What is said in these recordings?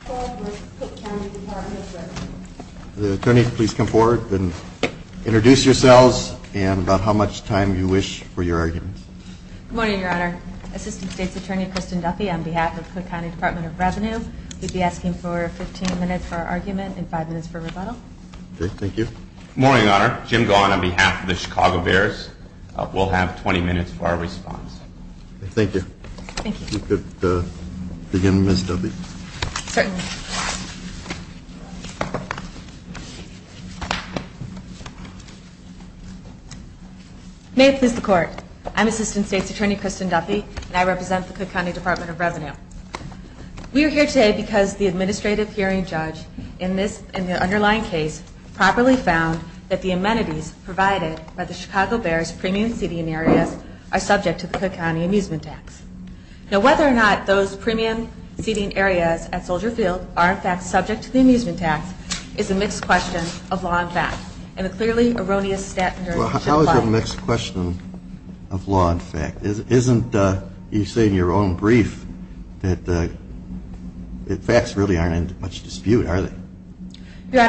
Good morning, Your Honor. Assistant State's Attorney Christian Duffy on behalf of Cook County Department of Revenue. We'd be asking for 15 minutes for argument and 5 minutes for rebuttal. Thank you. Good morning, Your Honor. Jim Gaughan on behalf of the Chicago Bears. We'll have 20 minutes for our response. Thank you. Thank you. If you could begin Ms. Duffy. Certainly. May it please the Court. I'm Assistant State's Attorney Christian Duffy and I represent the Cook County Department of Revenue. We are here today because the Administrative Hearing Judge in the underlying case properly found that the amenities provided by the Chicago Bears premium seating area are subject to the Cook County Amusement Tax. Now whether or not those premium seating areas at Soldier Field are in fact subject to the Amusement Tax is a mixed question of law and fact and a clearly erroneous statement. How is it a mixed question of law and fact? Isn't you saying in your own brief that facts really aren't in much dispute, are they? Your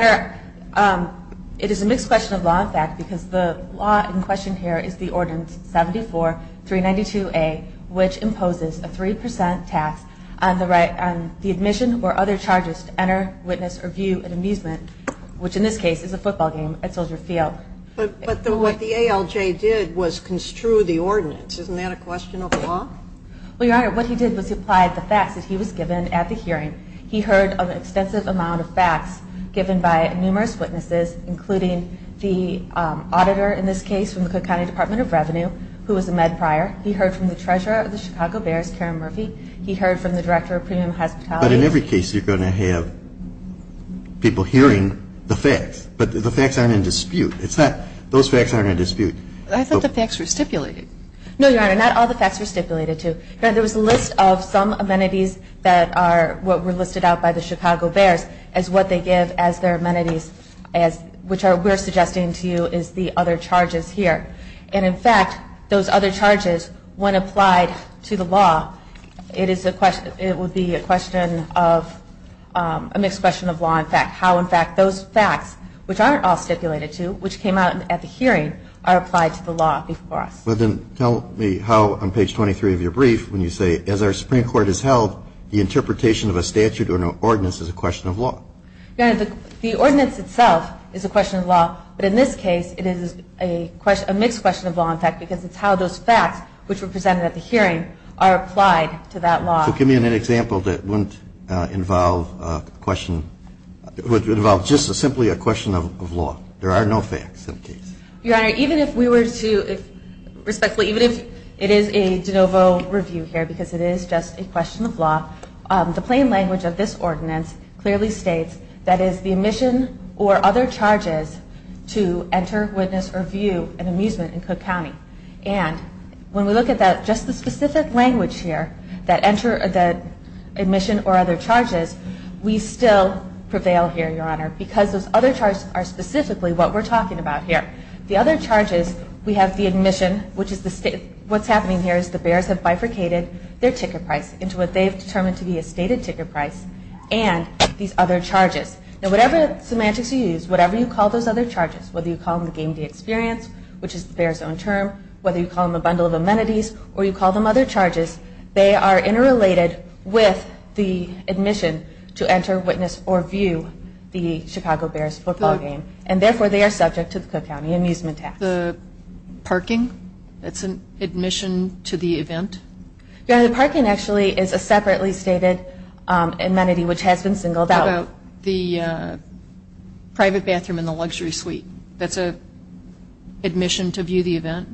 Honor, it is a mixed question of law and fact because the law in question here is the Ordinance 74392A which imposes a 3% tax on the admission or other charges to enter, witness, review and amusement, which in this case is a football game at Soldier Field. But what the ALJ did was construe the ordinance. Isn't that a question of law? Well, Your Honor, what he did was he applied the facts that he was given at the hearing. He heard an extensive amount of facts given by numerous witnesses including the auditor in this case from the Cook County Department of Revenue who was a Med Prior. He heard from the Treasurer of the Chicago Bears, Karen Murphy. He heard from the Director of Premium Hospitality. But in every case you're going to have people hearing the facts, but the facts aren't in dispute. Those facts aren't in dispute. I thought the facts were stipulated. No, Your Honor, not all the facts are stipulated. There was a list of some amenities that were listed out by the Chicago Bears as what they give as their amenities, which we're suggesting to you is the other charges here. And in fact, those other charges, when applied to the law, it would be a question of a mixed question of law and fact. How in fact those facts, which aren't all stipulated to, which came out at the hearing, are applied to the law before us. Well, then tell me how on page 23 of your brief when you say, as our Supreme Court has held, the interpretation of a statute or an ordinance is a question of law. Your Honor, the ordinance itself is a question of law, but in this case it is a mixed question of law and fact because it's how those facts, which were presented at the hearing, are applied to that law. So give me an example that wouldn't involve just simply a question of law. There are no facts in the case. Your Honor, even if we were to, respectfully, even if it is a de novo review here because it is just a question of law, the plain language of this ordinance clearly states that it is the admission or other charges to enter, witness, or view an amusement in Cook County. And when we look at that, just the specific language here, that admission or other charges, we still prevail here, Your Honor, because those other charges are specifically what we're talking about here. The other charges, we have the admission, which is the state, what's happening here is the bears have bifurcated their ticket price into what they've determined to be a stated ticket price and these other charges. Now whatever semantics you use, whatever you call those other charges, whether you call them the game day experience, which is the bears own term, whether you call them a bundle of amenities, or you call them other charges, they are interrelated with the admission to enter, witness, or view the Chicago Bears football game. And therefore they are subject to the Cook County Amusement Tax. The parking? That's an admission to the event? Your Honor, the parking actually is a separately stated amenity which has been singled out. What about the private bathroom and the luxury suite? That's an admission to view the event?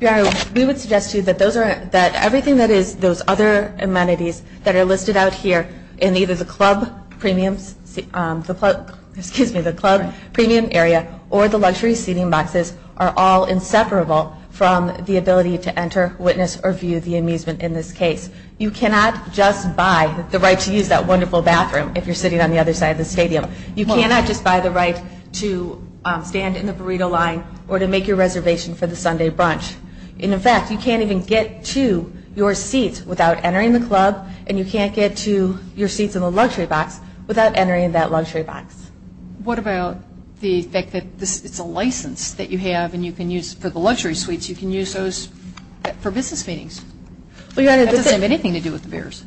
Your Honor, we would suggest to you that everything that is those other amenities that are listed out here in either the club premium area or the luxury seating boxes are all inseparable from the ability to enter, witness, or view the amusement in this case. You cannot just buy the right to use that wonderful bathroom if you're sitting on the other side of the stadium. You cannot just buy the right to stand in the burrito line or to make your reservation for the Sunday brunch. In fact, you can't even get to your seat without entering the club and you can't get to your seat in the luxury box without entering that luxury box. What about the fact that it's a license that you have and you can use for the luxury suites, you can use those for business meetings? That doesn't have anything to do with the Bears.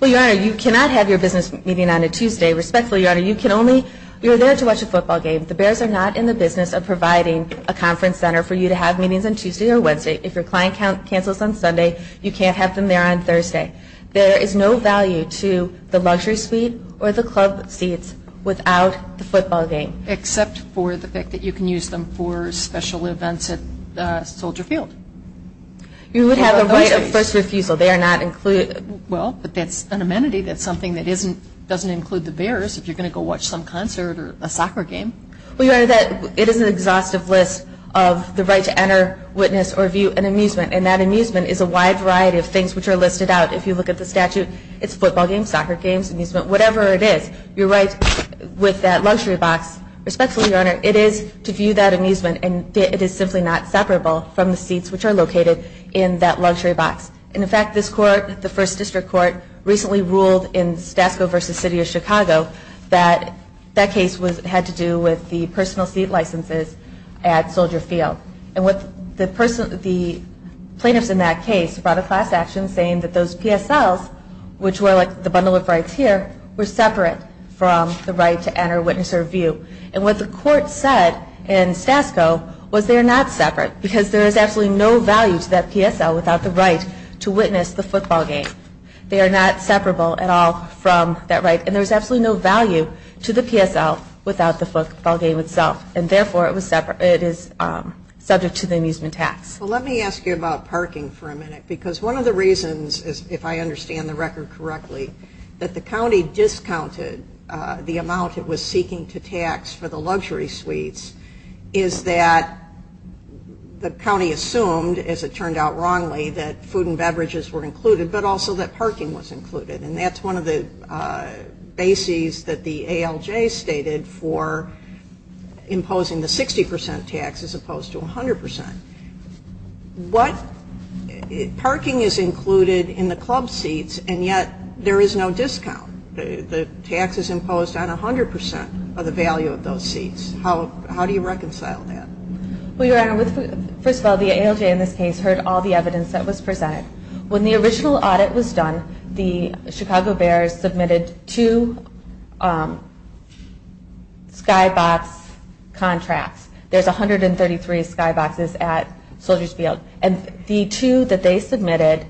Well, Your Honor, you cannot have your business meeting on a Tuesday. Respectfully, Your Honor, you are there to watch a football game. The Bears are not in the business of providing a conference center for you to have meetings on Tuesday or Wednesday. If your client cancels on Sunday, you can't have them there on Thursday. There is no value to the luxury suite or the club seats without the football game. Except for the fact that you can use them for special events at Soldier Field. You would have the right of first refusal. They are not included. Well, but that's an amenity. That's something that doesn't include the Bears if you're going to go watch some concert or a soccer game. Well, Your Honor, it is an exhaustive list of the right to enter, witness, or view an amusement. And that amusement is a wide variety of things which are listed out. If you look at the statute, it's football games, soccer games, amusement, whatever it is. You're right with that luxury box. Respectfully, Your Honor, it is to view that amusement. And it is simply not separable from the seats which are located in that luxury box. And, in fact, this court, the First District Court, recently ruled in Statsville v. City of Chicago that that case had to do with the personal seat licenses at Soldier Field. And the plaintiff in that case brought a class action saying that those PSLs, which were the bundle of rights here, were separate from the right to enter, witness, or view. And what the court said in Statsville was they're not separate because there is absolutely no value to that PSL without the right to witness the football game. They are not separable at all from that right. And there's absolutely no value to the PSL without the football game itself. And, therefore, it is separate to the amusement tax. Well, let me ask you about parking for a minute. Because one of the reasons, if I understand the record correctly, that the county discounted the amount it was seeking to tax for the luxury suites is that the county assumed, as it turned out wrongly, that food and beverages were included, but also that parking was included. And that's one of the bases that the ALJ stated for imposing the 60% tax as opposed to 100%. What parking is included in the club seats, and yet there is no discount? The tax is imposed on 100% of the value of those seats. How do you reconcile that? Well, Your Honor, first of all, the ALJ in this case heard all the evidence that was presented. When the original audit was done, the Chicago Bears submitted two skybox contracts. There's 133 skyboxes at Soldier's Field. And the two that they submitted,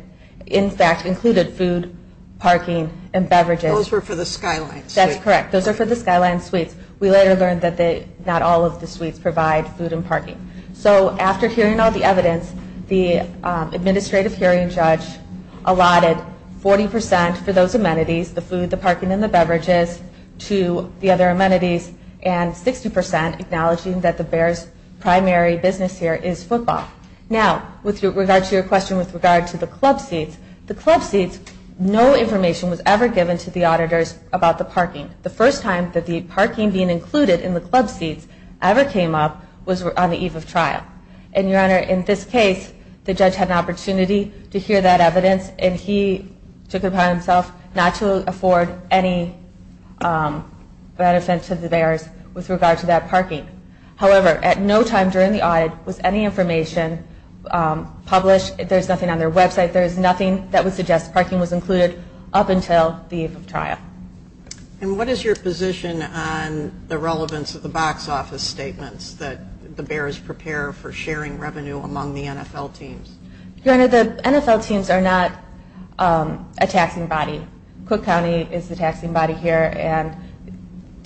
in fact, included food, parking, and beverages. Those were for the Skyline suites. That's correct. Those were for the Skyline suites. We later learned that not all of the suites provide food and parking. So after hearing all the evidence, the administrative hearing judge allotted 40% for those amenities, the food, the parking, and the beverages, to the other amenities, and 60% acknowledging that the Bears' primary business here is football. Now, with regard to your question with regard to the club seats, the club seats, no information was ever given to the auditors about the parking. The first time that the parking being included in the club seats ever came up was on the eve of trial. And, Your Honor, in this case, the judge had an opportunity to hear that evidence, and he took it upon himself not to afford any reticence to the Bears with regard to that parking. However, at no time during the audit was any information published. There's nothing on their website. There's nothing that would suggest parking was included up until the eve of trial. And what is your position on the relevance of the box office statements that the Bears prepare for sharing revenue among the NFL teams? Your Honor, the NFL teams are not a taxing body. Cook County is a taxing body here, and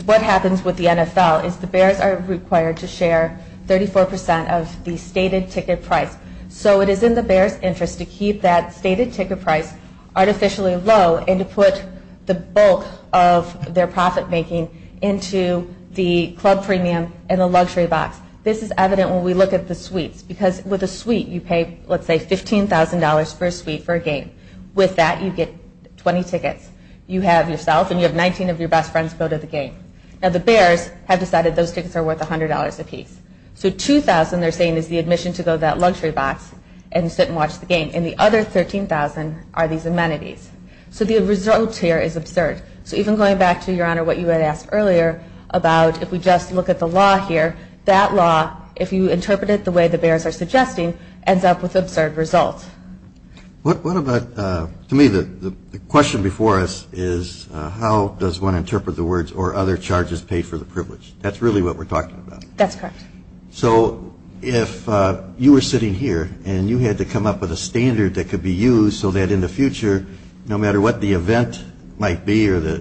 what happens with the NFL is the Bears are required to share 34% of the stated ticket price. So it is in the Bears' interest to keep that stated ticket price artificially low and to put the bulk of their profit-making into the club premium and the luxury box. This is evident when we look at the suites. Because with a suite, you pay, let's say, $15,000 per suite for a game. With that, you get 20 tickets. You have yourself, and you have 19 of your best friends go to the game. Now, the Bears have decided those tickets are worth $100 a piece. So $2,000, they're saying, is the admission to go to that luxury box and sit and watch the game. And the other $13,000 are these amenities. So the result here is absurd. So even going back to, Your Honor, what you had asked earlier about if we just look at the law here, that law, if you interpret it the way the Bears are suggesting, ends up with absurd results. To me, the question before us is how does one interpret the words, or other charges paid for the privilege? That's really what we're talking about. That's correct. So if you were sitting here and you had to come up with a standard that could be used so that in the future, no matter what the event might be or the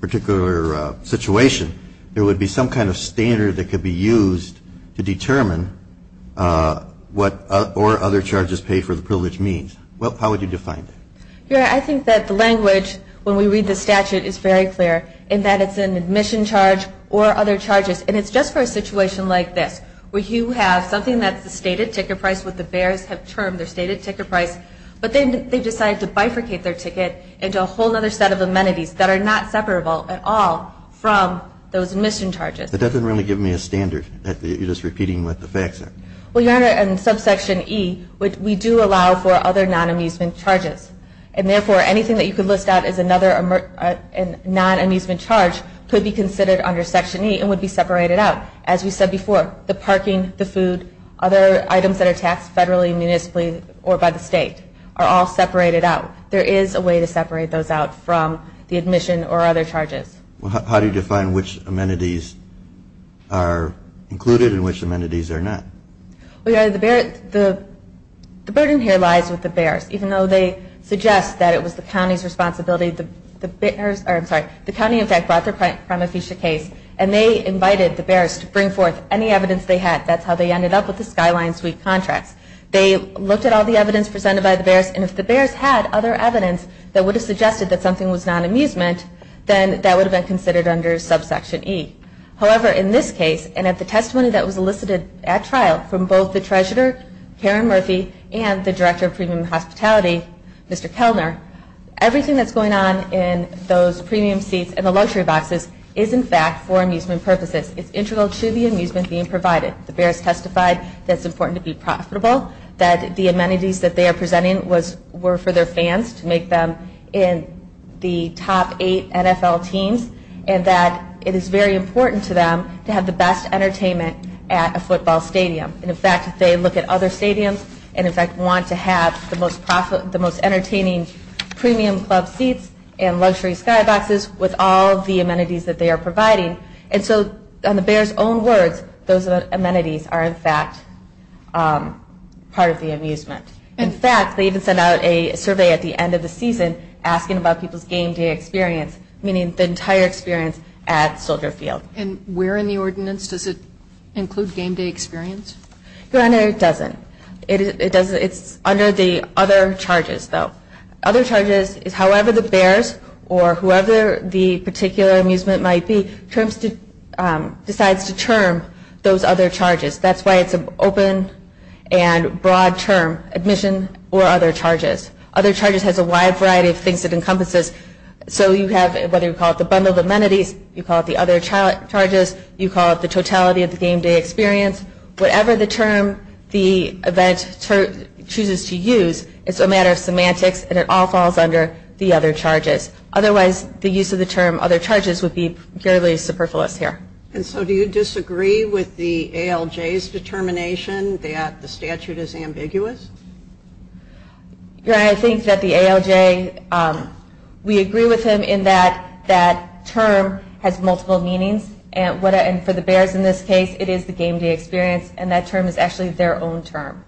particular situation, there would be some kind of standard that could be used to determine what or other charges paid for the privilege means. How would you define that? Your Honor, I think that language when we read the statute is very clear, in that it's an admission charge or other charges. And it's just for a situation like this, where you have something that's the stated ticket price, what the Bears have termed the stated ticket price, but then they decide to bifurcate their ticket into a whole other set of amenities that are not separable at all from those admission charges. But that doesn't really give me a standard. You're just repeating what the facts are. Well, Your Honor, in subsection E, we do allow for other non-amusement charges. And therefore, anything that you could list out as another non-amusement charge could be considered under section E and would be separated out. As we said before, the parking, the food, other items that are taxed federally, municipally, or by the state are all separated out. There is a way to separate those out from the admission or other charges. Well, how do you define which amenities are included and which amenities are not? Well, Your Honor, the burden here lies with the Bears. Even though they suggest that it was the county's responsibility, the bears, or I'm sorry, the county, in fact, brought this case, and they invited the Bears to bring forth any evidence they had. That's how they ended up with the skyline suite contract. They looked at all the evidence presented by the Bears, and if the Bears had other evidence that would have suggested that something was non-amusement, then that would have been considered under subsection E. However, in this case, and at the testimony that was elicited at trial from both the treasurer, Karen Murphy, and the director of prison and hospitality, Mr. Kellner, everything that's going on in those premium seats and the luxury boxes is, in fact, for amusement purposes. It's integral to the amusement being provided. The Bears testified that it's important to be profitable, that the amenities that they are presenting were for their fans to make them in the top eight NFL teams, and that it is very important to them to have the best entertainment at a football stadium. In fact, if they look at other stadiums and, in fact, want to have the most entertaining premium club seats and luxury skyboxes with all the amenities that they are providing, and so on the Bears' own words, those amenities are, in fact, part of the amusement. In fact, they even sent out a survey at the end of the season asking about people's game day experience, meaning the entire experience at Soldier Field. And where in the ordinance does it include game day experience? No, it doesn't. It's under the other charges, though. Other charges is however the Bears or whoever the particular amusement might be decides to term those other charges. That's why it's an open and broad term, admission or other charges. Other charges has a wide variety of things that encompasses. So you have what we call the bundle of amenities, you call it the other charges, you call it the totality of the game day experience. Whatever the term the event chooses to use, it's a matter of semantics and it all falls under the other charges. Otherwise, the use of the term other charges would be fairly superfluous here. And so do you disagree with the ALJ's determination that the statute is ambiguous? I think that the ALJ, we agree with him in that that term has multiple meanings. And for the Bears in this case, it is the game day experience and that term is actually their own term.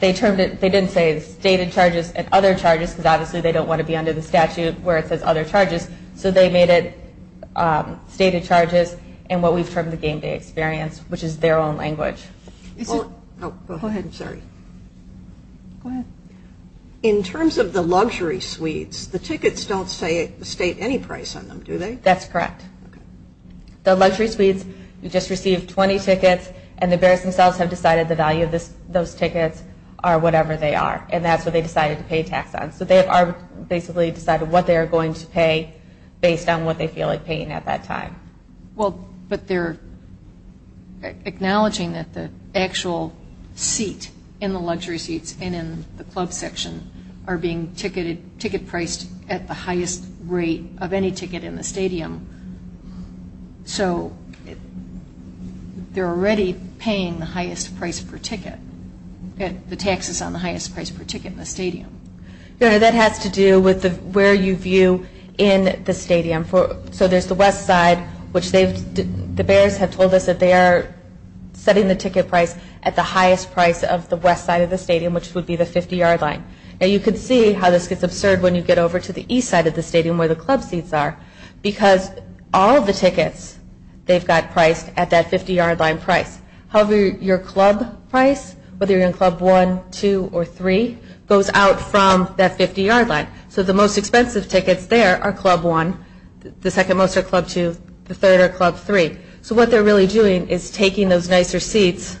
They didn't say stated charges and other charges because obviously they don't want to be under the statute where it says other charges. So they made it stated charges and what we term the game day experience, which is their own language. Go ahead, sorry. In terms of the luxury suites, the tickets don't state any price on them, do they? That's correct. The luxury suites just received 20 tickets and the Bears themselves have decided the value of those tickets are whatever they are. And that's what they decided to pay tax on. So they basically decided what they are going to pay based on what they feel like paying at that time. But they are acknowledging that the actual seat in the luxury seats and in the club section are being ticket priced at the highest rate of any ticket in the stadium. So they are already paying the highest price per ticket, the taxes on the highest price per ticket in the stadium. That has to do with where you view in the stadium. So there is the west side, which the Bears have told us that they are setting the ticket price at the highest price of the west side of the stadium, which would be the 50-yard line. And you can see how this gets absurd when you get over to the east side of the stadium where the club seats are because all of the tickets, they've got priced at that 50-yard line price. However, your club price, whether you are in club 1, 2, or 3, goes out from that 50-yard line. So the most expensive tickets there are club 1, the second most are club 2, the third are club 3. So what they are really doing is taking those nicer seats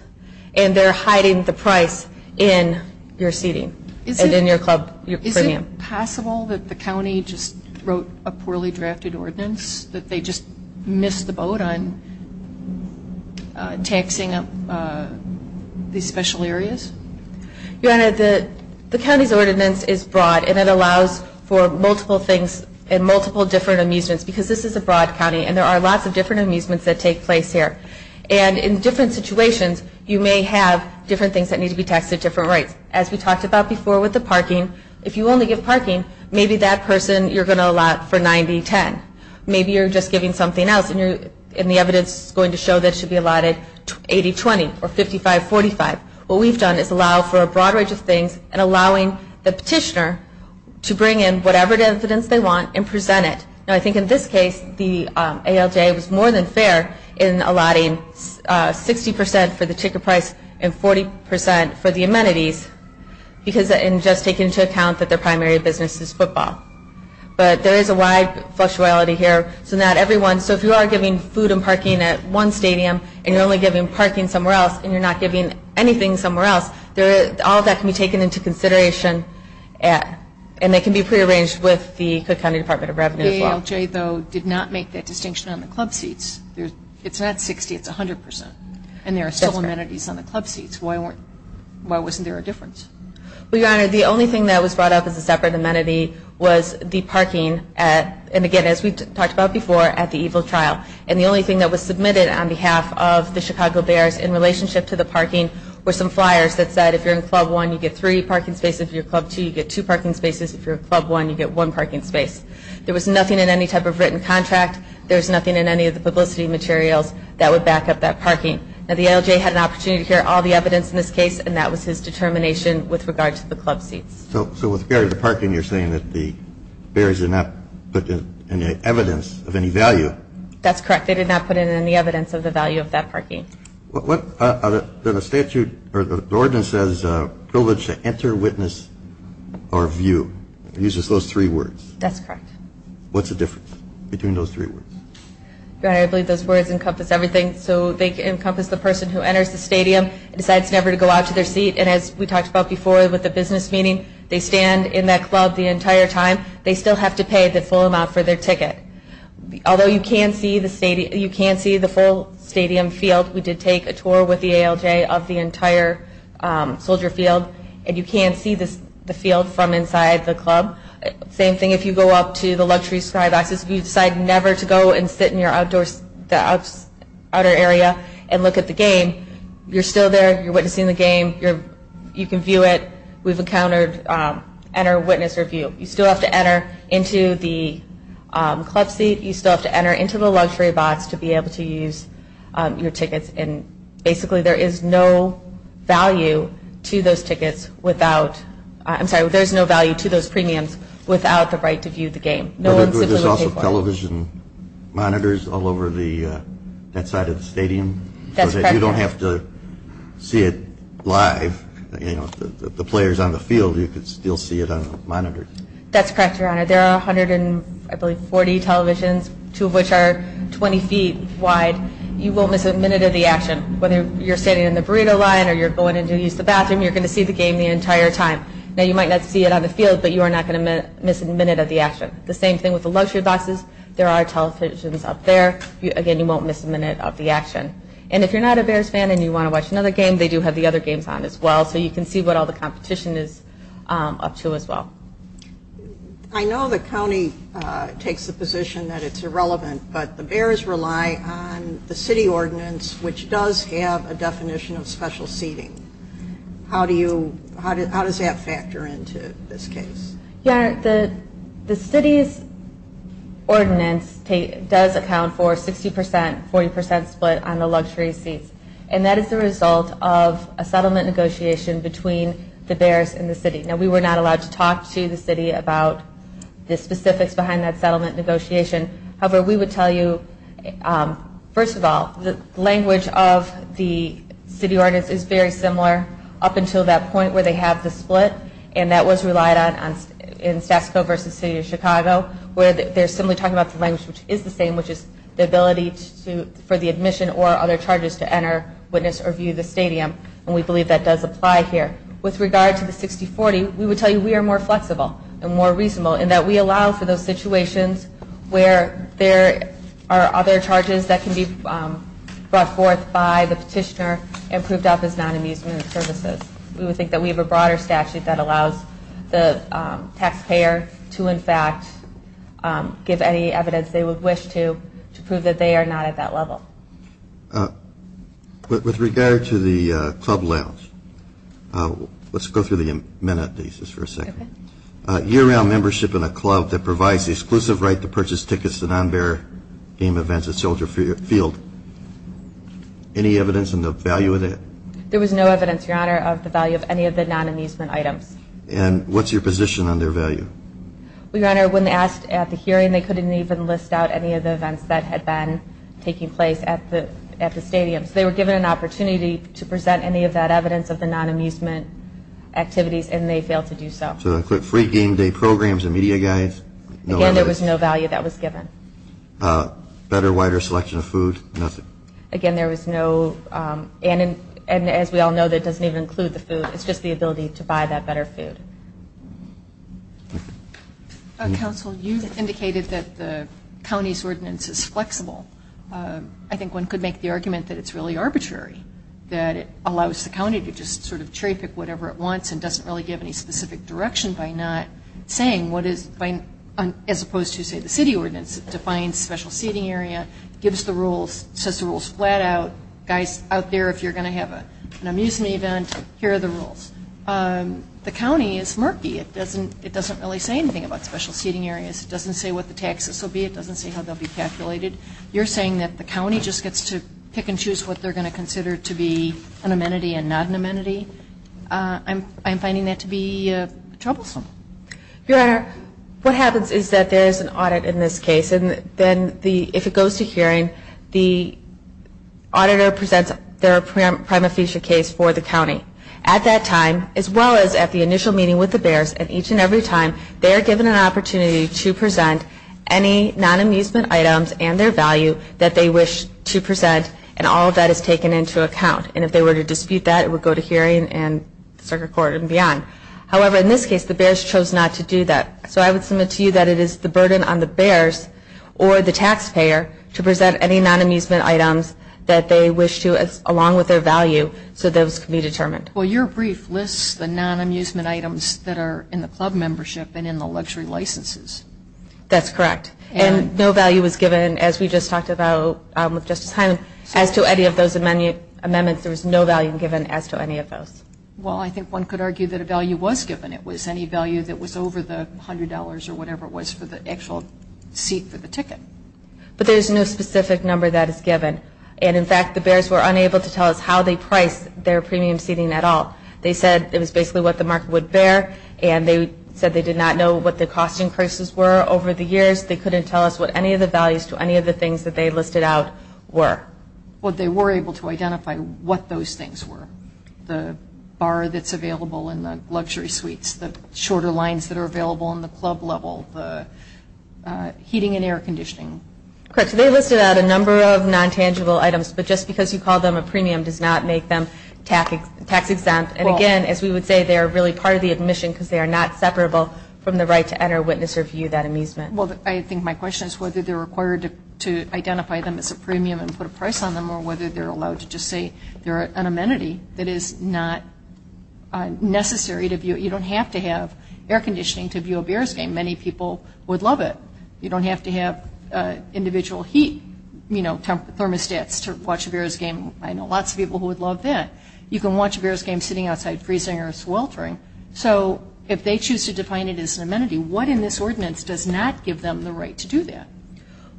and they are hiding the price in your seating and in your premium. Is it possible that the county just wrote a poorly drafted ordinance that they just missed the boat on taxing up these special areas? Your Honor, the county's ordinance is broad and it allows for multiple things and multiple different amusements because this is a broad county and there are lots of different amusements that take place here. And in different situations, you may have different things that need to be taxed at different rates. As we talked about before with the parking, if you only get parking, maybe that person you are going to allot for 90-10. Maybe you are just giving something else and the evidence is going to show that it should be allotted 80-20 or 55-45. What we've done is allow for a broad range of things and allowing the petitioner to bring in whatever the incidents they want and present it. I think in this case, the ALJ was more than fair in allotting 60% for the ticket price and 40% for the amenities and just taking into account that their primary business is football. But there is a wide flexibility here. So if you are giving food and parking at one stadium and you are only giving parking somewhere else and you are not giving anything somewhere else, all of that can be taken into consideration and they can be prearranged with the Cook County Department of Revenue as well. The ALJ, though, did not make that distinction on the club seats. It's not 60, it's 100%. And there are several amenities on the club seats. Why wasn't there a difference? Well, Your Honor, the only thing that was brought up as a separate amenity was the parking. And again, as we've talked about before, at the EGLE trial. And the only thing that was submitted on behalf of the Chicago Bears in relationship to the parking were some flyers that said if you're in Club 1, you get three parking spaces. If you're in Club 2, you get two parking spaces. If you're in Club 1, you get one parking space. There was nothing in any type of written contract. There was nothing in any of the publicity materials that would back up that parking. Now, the ALJ had an opportunity to hear all the evidence in this case and that was his determination with regard to the club seats. So with the parking, you're saying that the Bears did not put in any evidence of any value? They did not put in any evidence of the value of that parking. The statute or the ordinance says privilege to enter, witness, or view. It uses those three words. That's correct. What's the difference between those three words? I believe those words encompass everything. So they encompass the person who enters the stadium and decides never to go out to their seat. And as we talked about before with the business meeting, they stand in that club the entire time. They still have to pay the full amount for their ticket. Although you can see the full stadium field, we did take a tour with the ALJ of the entire soldier field, and you can see the field from inside the club. Same thing if you go up to the luxury side. If you decide never to go and sit in your outdoor area and look at the game, you're still there. You're witnessing the game. You can view it. Who's encountered, enter, witness, or view. You still have to enter into the club seat. You still have to enter into the luxury box to be able to use your tickets. And basically there is no value to those tickets without – I'm sorry. There's no value to those premiums without the right to view the game. There's also television monitors all over that side of the stadium. That's correct. You don't have to see it live. The players on the field, you can still see it on monitors. That's correct, Your Honor. There are 140 televisions, two of which are 20 feet wide. You won't miss a minute of the action. Whether you're standing in the burrito line or you're going to use the bathroom, you're going to see the game the entire time. Now, you might not see it on the field, but you are not going to miss a minute of the action. The same thing with the luxury boxes. There are televisions up there. Again, you won't miss a minute of the action. And if you're not a Bears fan and you want to watch another game, they do have the other games on as well. So you can see what all the competition is up to as well. I know the county takes the position that it's irrelevant, but the Bears rely on the city ordinance, which does have a definition of special seating. How does that factor into this case? The city's ordinance does account for 60 percent, 40 percent split on the luxury seats. And that is the result of a settlement negotiation between the Bears and the city. Now, we were not allowed to talk to the city about the specifics behind that settlement negotiation. However, we would tell you, first of all, the language of the city ordinance is very similar up until that point where they have the split, and that was relied on in Sasko versus the city of Chicago, where they're similarly talking about the language, which is the same, which is the ability for the admission or other charges to enter, witness, or view the stadium. And we believe that does apply here. With regard to the 60-40, we would tell you we are more flexible and more reasonable in that we allow for those situations where there are other charges that can be brought forth by the petitioner and proved up as non-amusement services. We would think that we have a broader statute that allows the taxpayer to, in fact, give any evidence they would wish to, to prove that they are not at that level. With regard to the club lounge, let's go through the amenities for a second. Year-round membership in a club that provides the exclusive right to purchase tickets to non-Bear game events is sheltered field. Any evidence in the value of that? There was no evidence, Your Honor, of the value of any of the non-amusement items. And what's your position on their value? Well, Your Honor, when asked at the hearing, they couldn't even list out any of the events that had been taking place at the stadium. They were given an opportunity to present any of that evidence of the non-amusement activities and they failed to do so. So include free game day programs and media guys? Again, there was no value that was given. Better, wider selection of food? Nothing. Again, there was no, and as we all know, that doesn't even include the food. It's just the ability to buy that better food. Counsel, you indicated that the county's ordinance is flexible. I think one could make the argument that it's really arbitrary, that it allows the county to just sort of traffic whatever it wants and doesn't really give any specific direction by not saying what is, as opposed to, say, the city ordinance. It defines special seating area, gives the rules, sets the rules flat out. Guys out there, if you're going to have an amusement event, here are the rules. The county is murky. It doesn't really say anything about special seating areas. It doesn't say what the taxes will be. It doesn't say how they'll be calculated. You're saying that the county just gets to pick and choose what they're going to consider to be an amenity and not an amenity? I'm finding that to be troublesome. Your Honor, what happens is that there is an audit in this case, and if it goes to hearing, the auditor presents their prima facie case for the county. At that time, as well as at the initial meeting with the bears, at each and every time, they are given an opportunity to present any non-amusement items and their value that they wish to present, and all of that is taken into account. And if they were to dispute that, it would go to hearing and circuit court and beyond. However, in this case, the bears chose not to do that. So I would submit to you that it is the burden on the bears or the taxpayer to present any non-amusement items that they wish to, along with their value, so those can be determined. Well, your brief lists the non-amusement items that are in the club membership and in the luxury licenses. That's correct. And no value was given, as we just talked about just a time. As to any of those amendments, there was no value given as to any of those. Well, I think one could argue that a value was given. It was any value that was over the $100 or whatever it was for the actual seat for the ticket. But there's no specific number that is given. And, in fact, the bears were unable to tell us how they priced their premium seating at all. They said it was basically what the market would bear, and they said they did not know what the cost increases were over the years. They couldn't tell us what any of the values to any of the things that they listed out were. Well, they were able to identify what those things were. The bar that's available in the luxury suites, the shorter lines that are available in the club level, the heating and air conditioning. Correct. They listed out a number of non-tangible items, but just because you call them a premium does not make them tax exempt. And, again, as we would say, they are really part of the admission because they are not separable from the right to enter, witness, or view that amusement. Well, I think my question is whether they're required to identify them as a premium and put a price on them or whether they're allowed to just say they're an amenity that is not necessary to view. You don't have to have air conditioning to view a bears game. Many people would love it. You don't have to have individual heat, you know, thermostats to watch a bears game. I know lots of people would love that. You can watch a bears game sitting outside freezing or sweltering. So, if they choose to define it as an amenity, what in this ordinance does not give them the right to do that?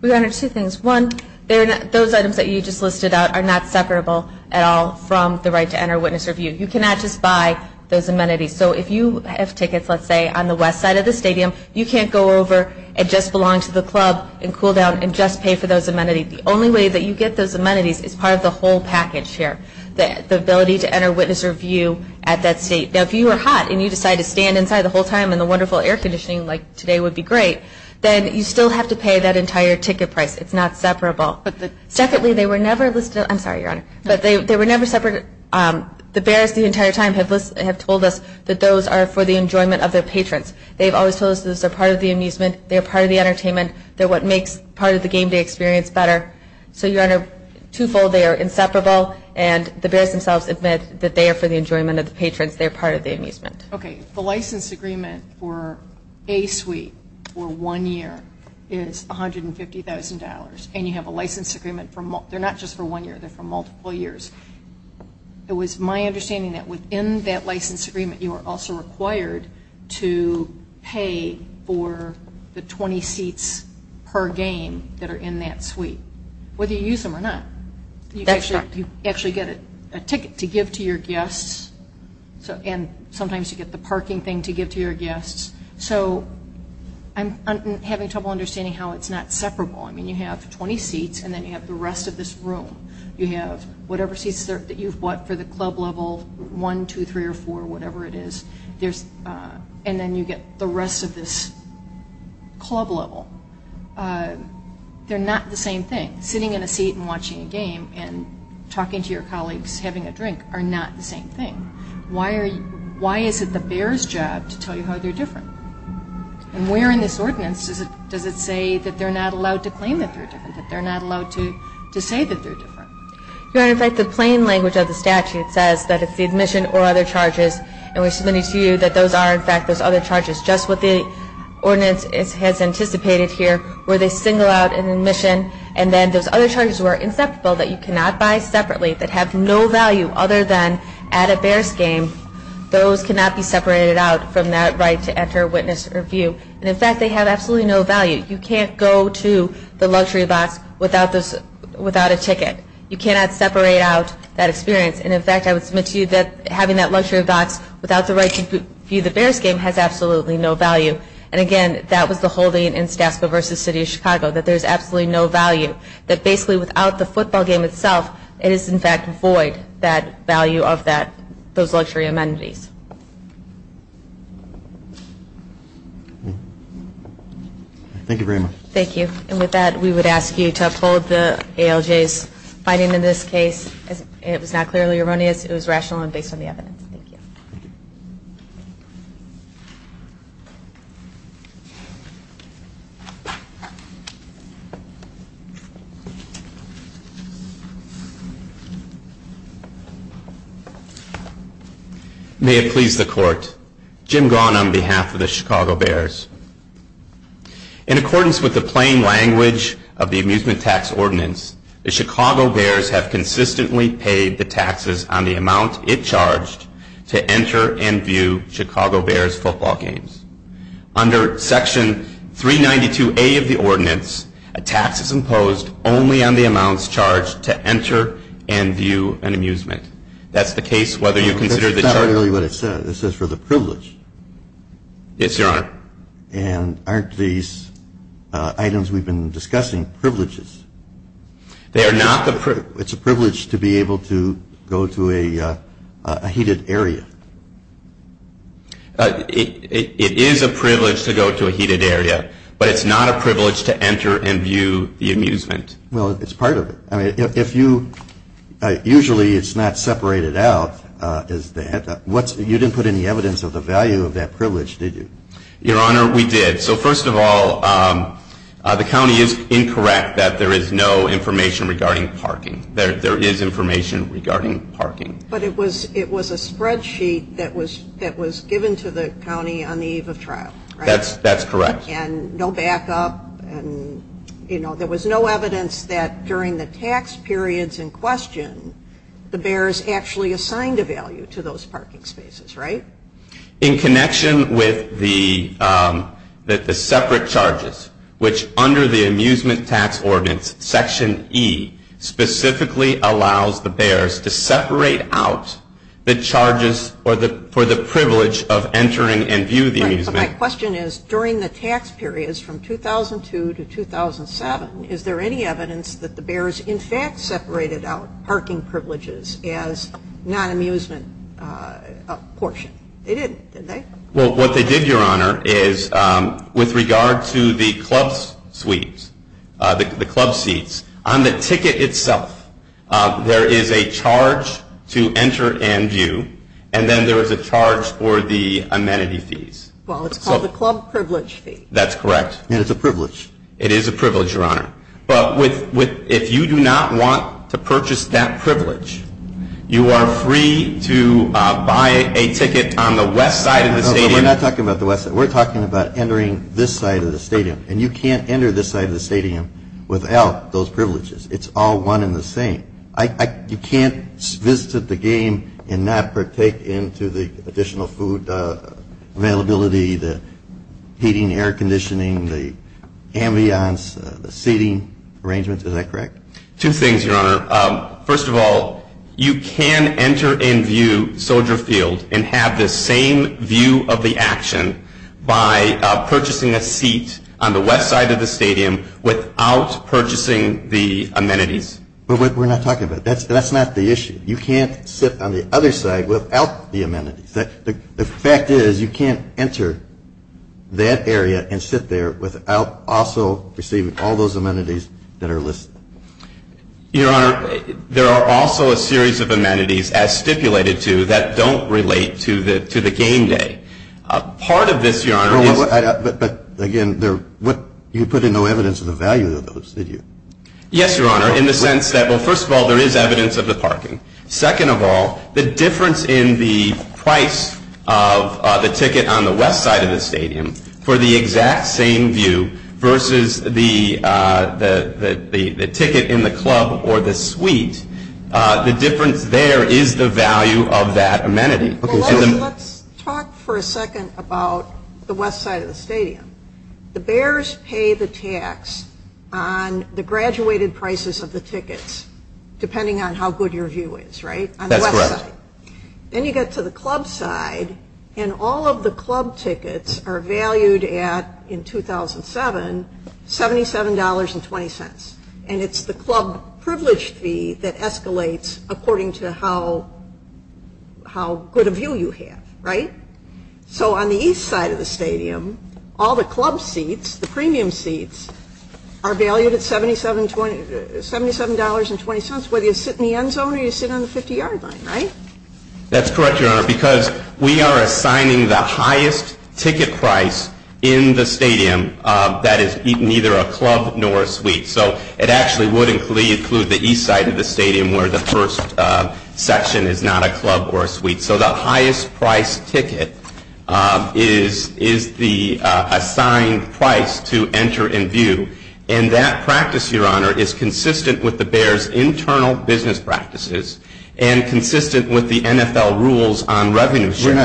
Well, there are two things. One, those items that you just listed out are not separable at all from the right to enter, witness, or view. You cannot just buy those amenities. So, if you have tickets, let's say, on the west side of the stadium, you can't go over and just belong to the club and cool down and just pay for those amenities. The only way that you get those amenities is part of the whole package here, the ability to enter, witness, or view at that state. Now, if you are hot and you decide to stand inside the whole time and the wonderful air conditioning like today would be great, then you still have to pay that entire ticket price. It's not separable. Secondly, they were never listed. I'm sorry, Your Honor. They were never separated. The bears the entire time have told us that those are for the enjoyment of their patrons. They've always told us those are part of the amusement. They're part of the entertainment. They're what makes part of the game day experience better. So, Your Honor, twofold, they are inseparable, and the bears themselves admit that they are for the enjoyment of the patrons. They're part of the amusement. Okay. The license agreement for a suite for one year is $150,000, and you have a license agreement for more. They're not just for one year. They're for multiple years. It was my understanding that within that license agreement, you are also required to pay for the 20 seats per game that are in that suite, whether you use them or not. You actually get a ticket to give to your guests, and sometimes you get the parking thing to give to your guests. So I'm having trouble understanding how it's not separable. I mean, you have 20 seats, and then you have the rest of this room. You have whatever seats that you've bought for the club level, one, two, three, or four, whatever it is, and then you get the rest of this club level. They're not the same thing. Sitting in a seat and watching a game and talking to your colleagues and having a drink are not the same thing. Why is it the bear's job to tell you how they're different? And where in this ordinance does it say that they're not allowed to claim that they're different, that they're not allowed to say that they're different? In fact, the plain language of the statute says that it's the admission or other charges, and we submitted to you that those are, in fact, those other charges, just what the ordinance has anticipated here, where they single out an admission, and then those other charges were inceptible, that you cannot buy separately, that have no value other than at a bear's game. Those cannot be separated out from that right to enter, witness, or view. And, in fact, they have absolutely no value. You can't go to the luxury box without a ticket. You cannot separate out that experience. And, in fact, I would submit to you that having that luxury box without the right to view the bear's game has absolutely no value. And, again, that was the holding in Stafford versus City of Chicago, that there's absolutely no value, that basically without the football game itself, it is, in fact, void, that value of those luxury amenities. Thank you very much. Thank you. And with that, we would ask you to uphold the ALJ's finding in this case. It was not clearly erroneous. It was rational and based on the evidence. Thank you. May it please the Court. Jim Gaughan on behalf of the Chicago Bears. In accordance with the plain language of the Amusement Tax Ordinance, the Chicago Bears have consistently paid the taxes on the amount it charged to enter and view Chicago Bears football games. Under Section 392A of the Ordinance, a tax is imposed only on the amounts charged to enter and view an amusement. That's the case whether you consider the… That's not really what it says. It says for the privileged. Yes, Your Honor. And aren't these items we've been discussing privileges? They are not the… It's a privilege to be able to go to a heated area. It is a privilege to go to a heated area, but it's not a privilege to enter and view the amusement. Well, it's part of it. I mean, if you… Usually, it's not separated out as that. You didn't put any evidence of the value of that privilege, did you? Your Honor, we did. So, first of all, the county is incorrect that there is no information regarding parking. There is information regarding parking. But it was a spreadsheet that was given to the county on the eve of trial, right? That's correct. And no backup. There was no evidence that during the tax periods in question, the bears actually assigned a value to those parking spaces, right? In connection with the separate charges, which under the amusement tax ordinance, Section E, specifically allows the bears to separate out the charges for the privilege of entering and view the amusement. My question is, during the tax periods from 2002 to 2007, is there any evidence that the bears in fact separated out parking privileges as non-amusement portion? They didn't, did they? Well, what they did, Your Honor, is with regard to the club suites, the club seats, on the ticket itself, there is a charge to enter and view, and then there is a charge for the amenity fees. Well, it's called the club privilege fee. That's correct. And it's a privilege. It is a privilege, Your Honor. But if you do not want to purchase that privilege, you are free to buy a ticket on the west side of the stadium. We're not talking about the west side. We're talking about entering this side of the stadium. And you can't enter this side of the stadium without those privileges. It's all one and the same. You can't visit the game and not take into the additional food availability, the heating, air conditioning, the ambiance, the seating arrangements. Is that correct? Two things, Your Honor. First of all, you can enter and view Soldier Field and have the same view of the action by purchasing a seat on the west side of the stadium without purchasing the amenities. But we're not talking about that. That's not the issue. You can't sit on the other side without the amenities. The fact is you can't enter that area and sit there without also receiving all those amenities that are listed. Your Honor, there are also a series of amenities, as stipulated to, that don't relate to the game day. Part of this, Your Honor – But, again, you put in no evidence of the value of those, did you? Yes, Your Honor, in the sense that, well, first of all, there is evidence of the parking. Second of all, the difference in the price of the ticket on the west side of the stadium for the exact same view versus the ticket in the club or the suite, the difference there is the value of that amenity. Let's talk for a second about the west side of the stadium. The Bears pay the tax on the graduated prices of the tickets, depending on how good your view is, right? That's right. Then you get to the club side, and all of the club tickets are valued at, in 2007, $77.20. And it's the club privilege fee that escalates according to how good a view you have, right? So, on the east side of the stadium, all the club seats, the premium seats, are valued at $77.20, whether you sit in the end zone or you sit on the 50-yard line, right? That's correct, Your Honor, because we are assigning the highest ticket price in the stadium that is neither a club nor a suite. So, it actually would include the east side of the stadium, where the first section is not a club or a suite. So, the highest price ticket is the assigned price to enter and view. And that practice, Your Honor, is consistent with the Bears' internal business practices and consistent with the NFL rules on revenue sharing.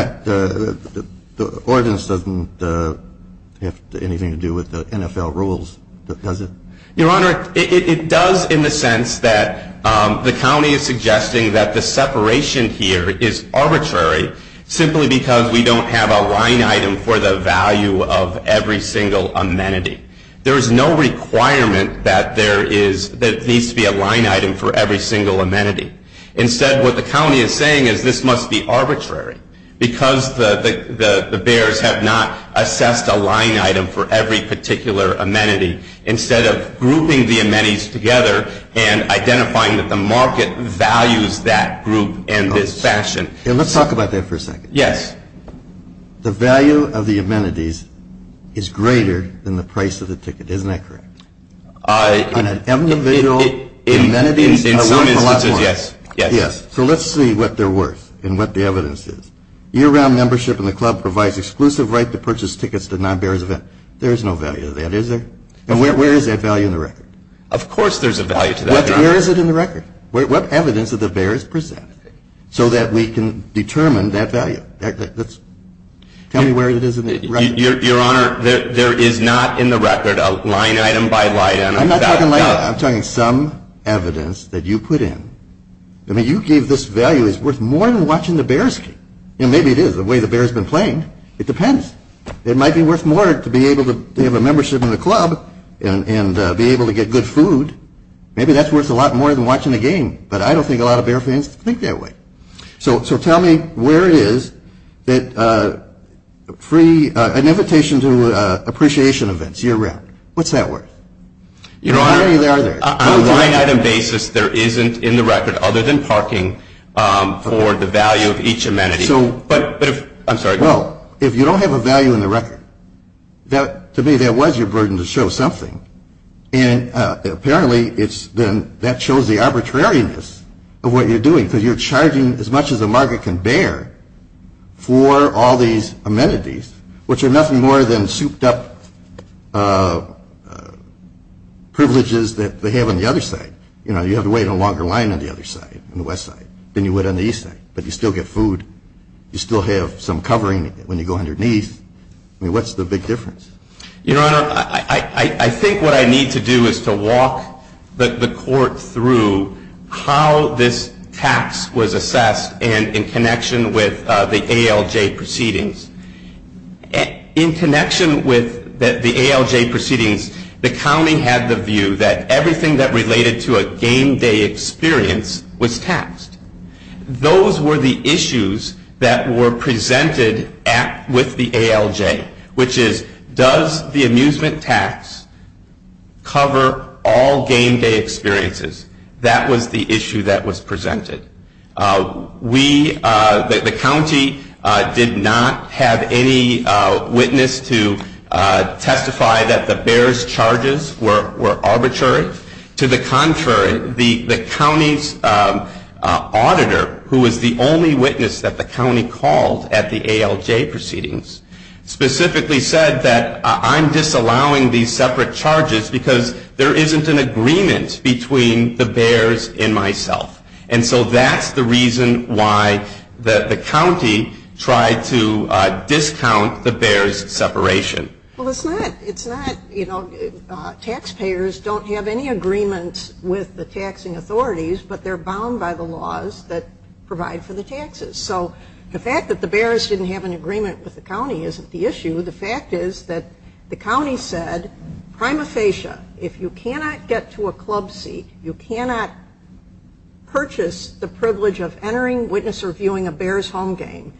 The ordinance doesn't have anything to do with the NFL rules, does it? Your Honor, it does in the sense that the county is suggesting that the separation here is arbitrary simply because we don't have a line item for the value of every single amenity. There is no requirement that there needs to be a line item for every single amenity. Instead, what the county is saying is this must be arbitrary because the Bears have not assessed a line item for every particular amenity. Instead of grouping the amenities together and identifying that the market values that group in this fashion. Let's talk about that for a second. Yes. The value of the amenities is greater than the price of the ticket. Isn't that correct? Yes. So, let's see what they're worth and what the evidence is. Year-round membership in the club provides exclusive right to purchase tickets to non-Bears events. There is no value to that, is there? And where is that value in the record? Of course there's a value to that, Your Honor. Where is it in the record? What evidence do the Bears present so that we can determine that value? Tell me where it is in the record. Your Honor, there is not in the record a line item by line item. I'm talking some evidence that you put in. I mean, you gave this value that's worth more than watching the Bears game. And maybe it is, the way the Bears have been playing. It depends. It might be worth more to be able to have a membership in the club and be able to get good food. Maybe that's worth a lot more than watching the game. But I don't think a lot of Bear fans think that way. So tell me where it is, an invitation to appreciation events, year-round. What's that worth? Your Honor, a line item basis there isn't in the record other than parking for the value of each amenity. I'm sorry. No, if you don't have a value in the record, to me that was your burden to show something. And apparently that shows the arbitrariness of what you're doing because you're charging as much as the market can bear for all these amenities, which are nothing more than souped-up privileges that they have on the other side. You know, you have to wait a longer line on the other side, on the west side, than you would on the east side. But you still get food. You still have some covering when you go underneath. I mean, what's the big difference? Your Honor, I think what I need to do is to walk the court through how this tax was assessed and in connection with the ALJ proceedings. In connection with the ALJ proceedings, the county had the view that everything that related to a game day experience was taxed. Those were the issues that were presented with the ALJ, which is does the amusement tax cover all game day experiences? That was the issue that was presented. We, the county, did not have any witness to testify that the bears' charges were arbitrary. To the contrary, the county's auditor, who was the only witness that the county called at the ALJ proceedings, specifically said that I'm disallowing these separate charges because there isn't an agreement between the bears and myself. And so that's the reason why the county tried to discount the bears' separation. Well, it's not. Taxpayers don't have any agreements with the taxing authorities, but they're bound by the laws that provide for the taxes. So the fact that the bears didn't have an agreement with the county isn't the issue. The fact is that the county said, prima facie, if you cannot get to a club seat, you cannot purchase the privilege of entering, witness, or viewing a bears' home game,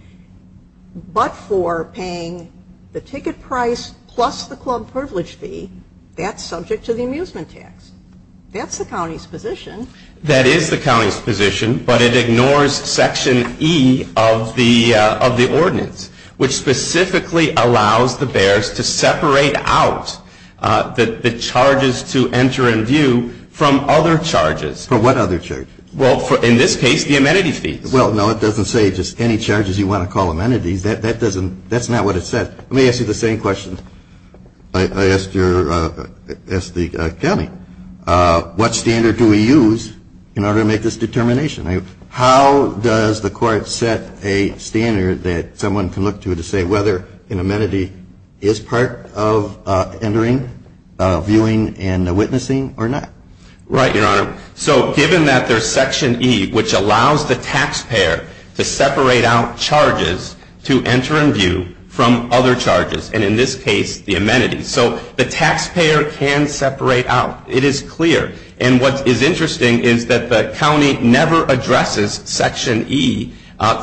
but for paying the ticket price plus the club privilege fee, that's subject to the amusement tax. That's the county's position. That is the county's position, but it ignores Section E of the ordinance, which specifically allows the bears to separate out the charges to enter and view from other charges. From what other charges? Well, in this case, the amenity fees. Well, no, it doesn't say just any charges you want to call amenity. That's not what it says. Let me ask you the same question. I asked the county, what standard do we use in order to make this determination? How does the court set a standard that someone can look to to say whether an amenity is part of entering, Right, Your Honor. So given that there's Section E, which allows the taxpayer to separate out charges to enter and view from other charges, and in this case, the amenity, so the taxpayer can separate out. It is clear. And what is interesting is that the county never addresses Section E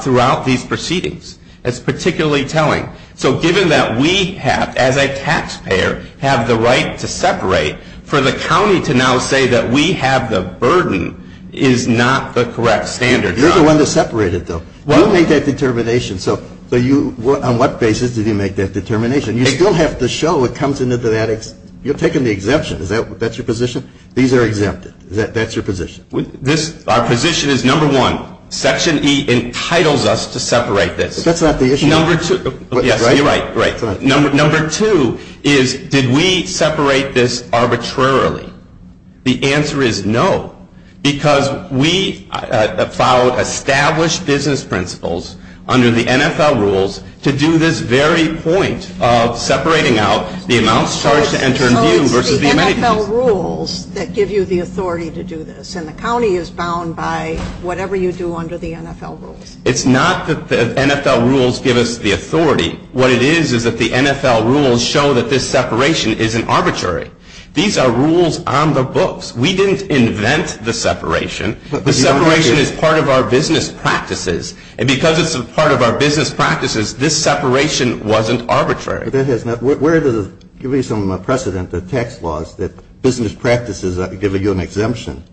throughout these proceedings. That's particularly telling. So given that we have, as a taxpayer, have the right to separate, for the county to now say that we have the burden is not the correct standard. You're the one that separated, though. You make that determination. On what basis did you make that determination? You still have to show it comes into that. You're taking the exemption. Is that your position? These are exempted. That's your position. Our position is, number one, Section E entitles us to separate this. That's not the issue. You're right. Number two is, did we separate this arbitrarily? The answer is no, because we followed established business principles under the NFL rules to do this very point of separating out the amounts charged to enter and view versus the amenity. It's the NFL rules that give you the authority to do this, and the county is bound by whatever you do under the NFL rules. It's not that the NFL rules give us the authority. What it is is that the NFL rules show that this separation isn't arbitrary. These are rules on the books. We didn't invent the separation. The separation is part of our business practices, and because it's a part of our business practices, this separation wasn't arbitrary. Where does it give you some precedent, the tax laws, that business practices give you an exemption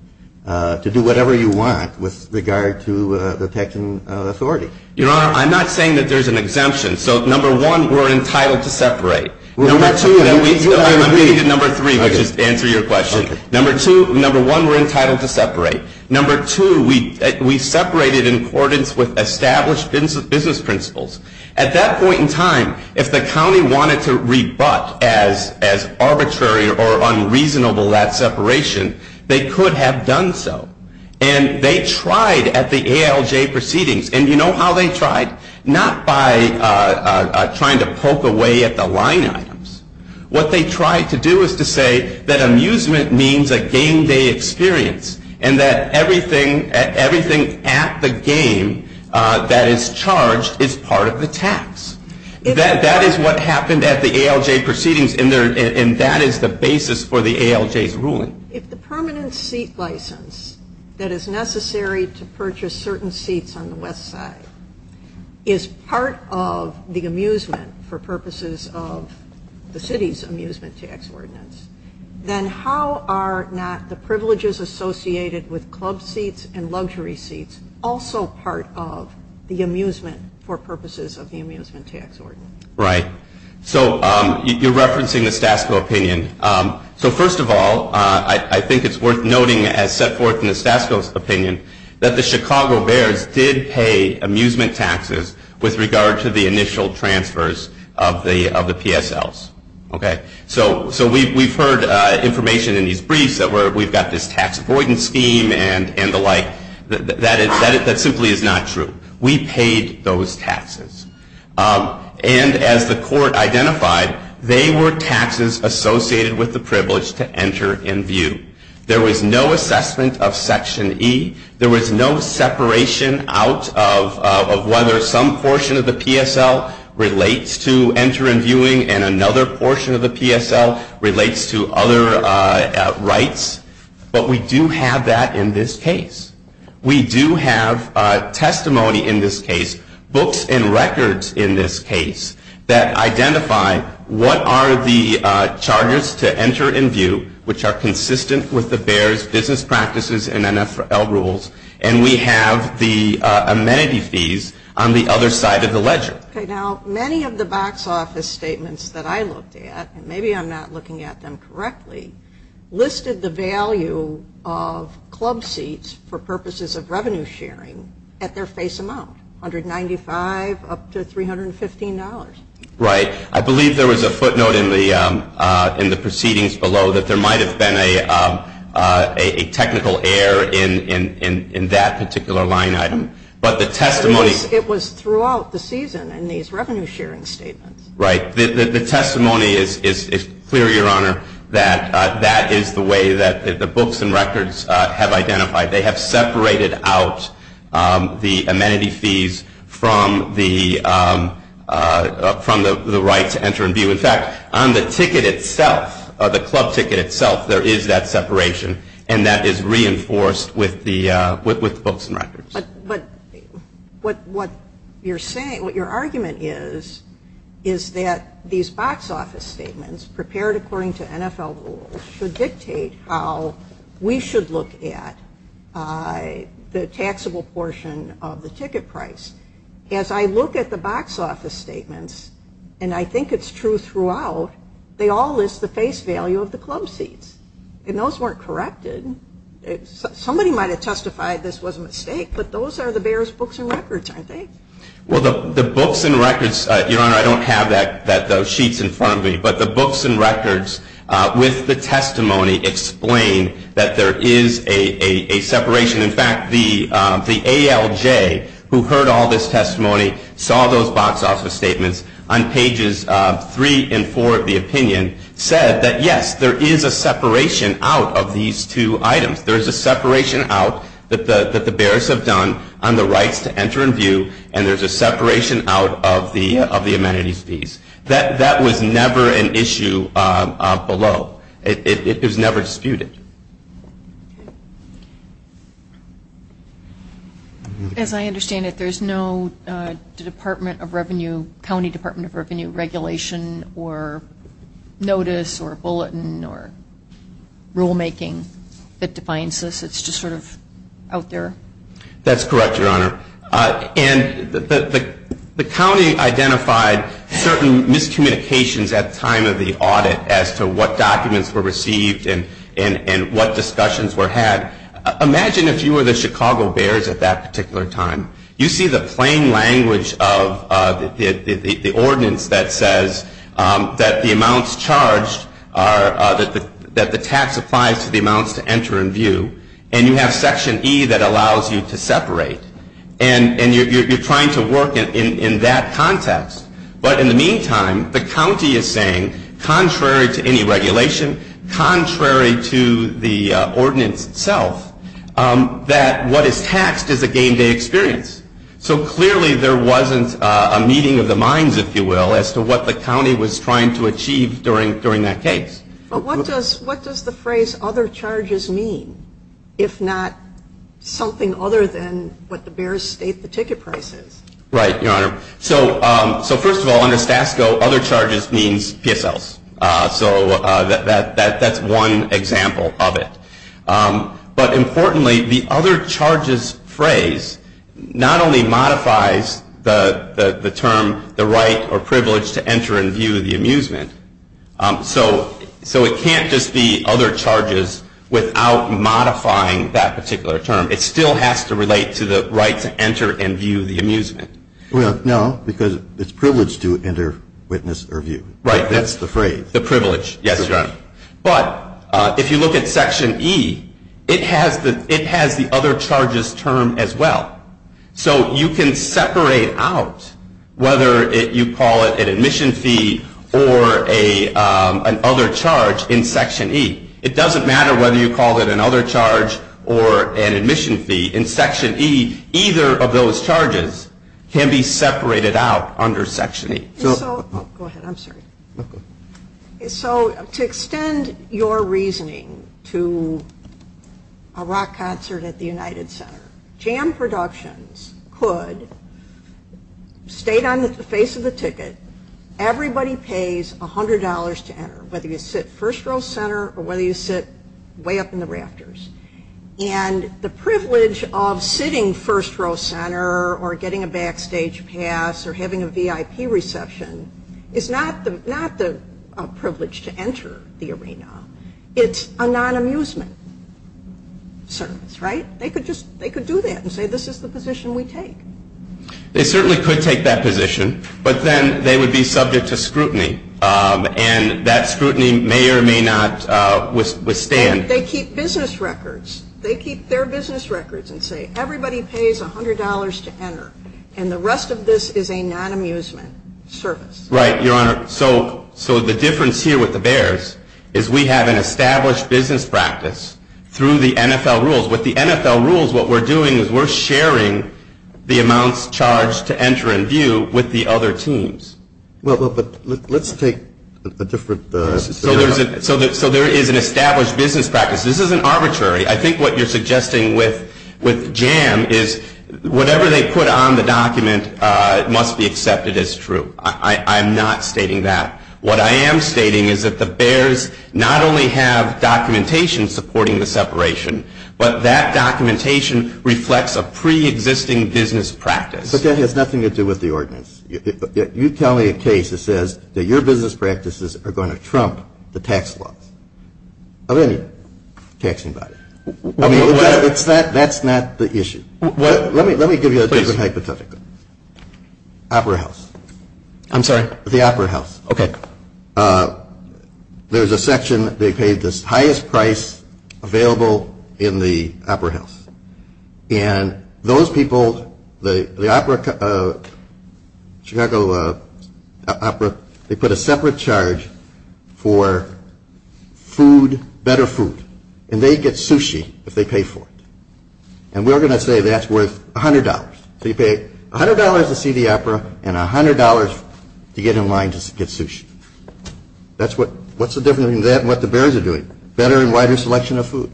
to do whatever you want with regard to the taxing authority? You know, I'm not saying that there's an exemption. So, number one, we're entitled to separate. I'm going to get number three to answer your question. Number one, we're entitled to separate. Number two, we separated in accordance with established business principles. At that point in time, if the county wanted to rebut as arbitrary or unreasonable that separation, they could have done so, and they tried at the ALJ proceedings. And you know how they tried? Not by trying to poke a way at the line items. What they tried to do was to say that amusement means a game day experience, and that everything at the game that is charged is part of the tax. That is what happened at the ALJ proceedings, and that is the basis for the ALJ's ruling. If the permanent seat license that is necessary to purchase certain seats on the west side is part of the amusement for purposes of the city's amusement tax ordinance, then how are not the privileges associated with club seats and luxury seats also part of the amusement for purposes of the amusement tax ordinance? Right. So, you're referencing the Statsville opinion. So, first of all, I think it's worth noting as set forth in the Statsville opinion that the Chicago Bears did pay amusement taxes with regard to the initial transfers of the PSLs. Okay. So, we've heard information in these briefs that we've got this tax avoidance scheme and the like. That simply is not true. We paid those taxes. And as the court identified, they were taxes associated with the privilege to enter in view. There was no assessment of Section E. There was no separation out of whether some portion of the PSL relates to enter in viewing and another portion of the PSL relates to other rights. But we do have that in this case. We do have testimony in this case, books and records in this case, that identify what are the charges to enter in view, which are consistent with the Bears' business practices and NFL rules, and we have the amenity fees on the other side of the ledger. Okay. Now, many of the box office statements that I looked at, and maybe I'm not looking at them correctly, listed the value of club seats for purposes of revenue sharing at their face amount, $195 up to $315. Right. I believe there was a footnote in the proceedings below that there might have been a technical error in that particular line item. It was throughout the season in these revenue sharing statements. Right. The testimony is clear, Your Honor, that that is the way that the books and records have identified. They have separated out the amenity fees from the right to enter in view. In fact, on the ticket itself, the club ticket itself, there is that separation, and that is reinforced with the books and records. But what you're saying, what your argument is, is that these box office statements, prepared according to NFL rules, should dictate how we should look at the taxable portion of the ticket price. As I look at the box office statements, and I think it's true throughout, they all list the face value of the club seats, and those weren't corrected. Somebody might have testified this was a mistake, but those are the bearer's books and records, I think. Well, the books and records, Your Honor, I don't have those sheets in front of me, but the books and records with the testimony explain that there is a separation. In fact, the ALJ, who heard all this testimony, saw those box office statements, on pages three and four of the opinion, said that, yes, there is a separation out of these two items. There is a separation out that the bearers have done on the right to enter in view, and there's a separation out of the amenity fees. That was never an issue below. It was never disputed. As I understand it, there is no Department of Revenue, County Department of Revenue regulation or notice or bulletin or rulemaking that defines this. It's just sort of out there. That's correct, Your Honor. And the county identified certain miscommunications at the time of the audit as to what documents were received and what discussions were had. Imagine if you were the Chicago Bears at that particular time. You see the plain language of the ordinance that says that the amounts charged are that the tax applies to the amounts to enter in view, and you have Section E that allows you to separate, and you're trying to work in that context. But in the meantime, the county is saying, contrary to any regulation, contrary to the ordinance itself, that what is taxed is a game day experience. So clearly there wasn't a meeting of the minds, if you will, as to what the county was trying to achieve during that case. But what does the phrase other charges mean, if not something other than what the Bears state the ticket price is? Right, Your Honor. So first of all, under STASCO, other charges means PSLs. So that's one example of it. But importantly, the other charges phrase not only modifies the term the right or privilege to enter in view of the amusement, so it can't just be other charges without modifying that particular term. It still has to relate to the right to enter in view of the amusement. Well, no, because it's privileged to enter, witness, or view. Right. That's the phrase. The privilege. Yes, Your Honor. But if you look at Section E, it has the other charges term as well. So you can separate out whether you call it an admission fee or an other charge in Section E. It doesn't matter whether you call it an other charge or an admission fee. In Section E, either of those charges can be separated out under Section E. Go ahead. I'm sorry. Okay. So to extend your reasoning to a rock concert at the United Center, jam productions could state on the face of the ticket everybody pays $100 to enter, whether you sit first row center or whether you sit way up in the rafters. And the privilege of sitting first row center or getting a backstage pass or having a VIP reception is not the privilege to enter the arena. It's a non-amusement service. Right. They could do that and say this is the position we take. They certainly could take that position, but then they would be subject to scrutiny, and that scrutiny may or may not withstand. They keep business records. They keep their business records and say everybody pays $100 to enter, and the rest of this is a non-amusement service. Right, Your Honor. So the difference here with the Bears is we have an established business practice through the NFL rules. With the NFL rules, what we're doing is we're sharing the amounts charged to enter and view with the other teams. Well, but let's take a different scenario. So there is an established business practice. This isn't arbitrary. I think what you're suggesting with jam is whatever they put on the document must be accepted as true. I'm not stating that. What I am stating is that the Bears not only have documentation supporting the separation, but that documentation reflects a pre-existing business practice. But that has nothing to do with the ordinance. You tell me a case that says that your business practices are going to trump the tax law. I don't need tax invoices. That's not the issue. Let me give you a different hypothetical. Opera House. I'm sorry? The Opera House. Okay. There's a section that they pay the highest price available in the Opera House. And those people, the Chicago Opera, they put a separate charge for food, better food. And they get sushi if they pay for it. And we're going to say that's worth $100. So you pay $100 to see the opera and $100 to get in line to get sushi. What's the difference between that and what the Bears are doing? Better and wider selection of food.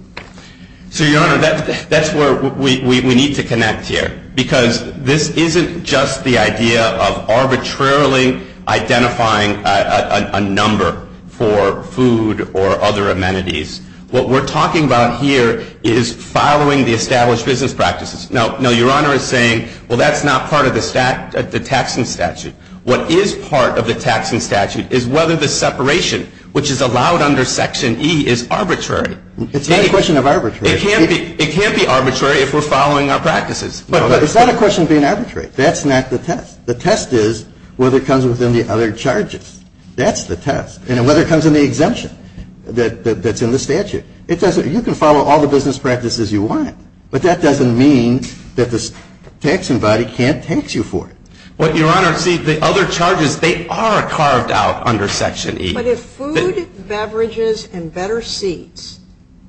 So, Your Honor, that's where we need to connect here. Because this isn't just the idea of arbitrarily identifying a number for food or other amenities. What we're talking about here is following the established business practices. Now, Your Honor is saying, well, that's not part of the taxing statute. What is part of the taxing statute is whether the separation, which is allowed under Section E, is arbitrary. It's not a question of arbitrary. It can't be arbitrary if we're following our practices. It's not a question of being arbitrary. That's not the test. The test is whether it comes within the other charges. That's the test. And whether it comes in the exemption that's in the statute. You can follow all the business practices you want. But that doesn't mean that the taxing body can't tax you for it. Well, Your Honor, see, the other charges, they are carved out under Section E. But if food, beverages, and better seats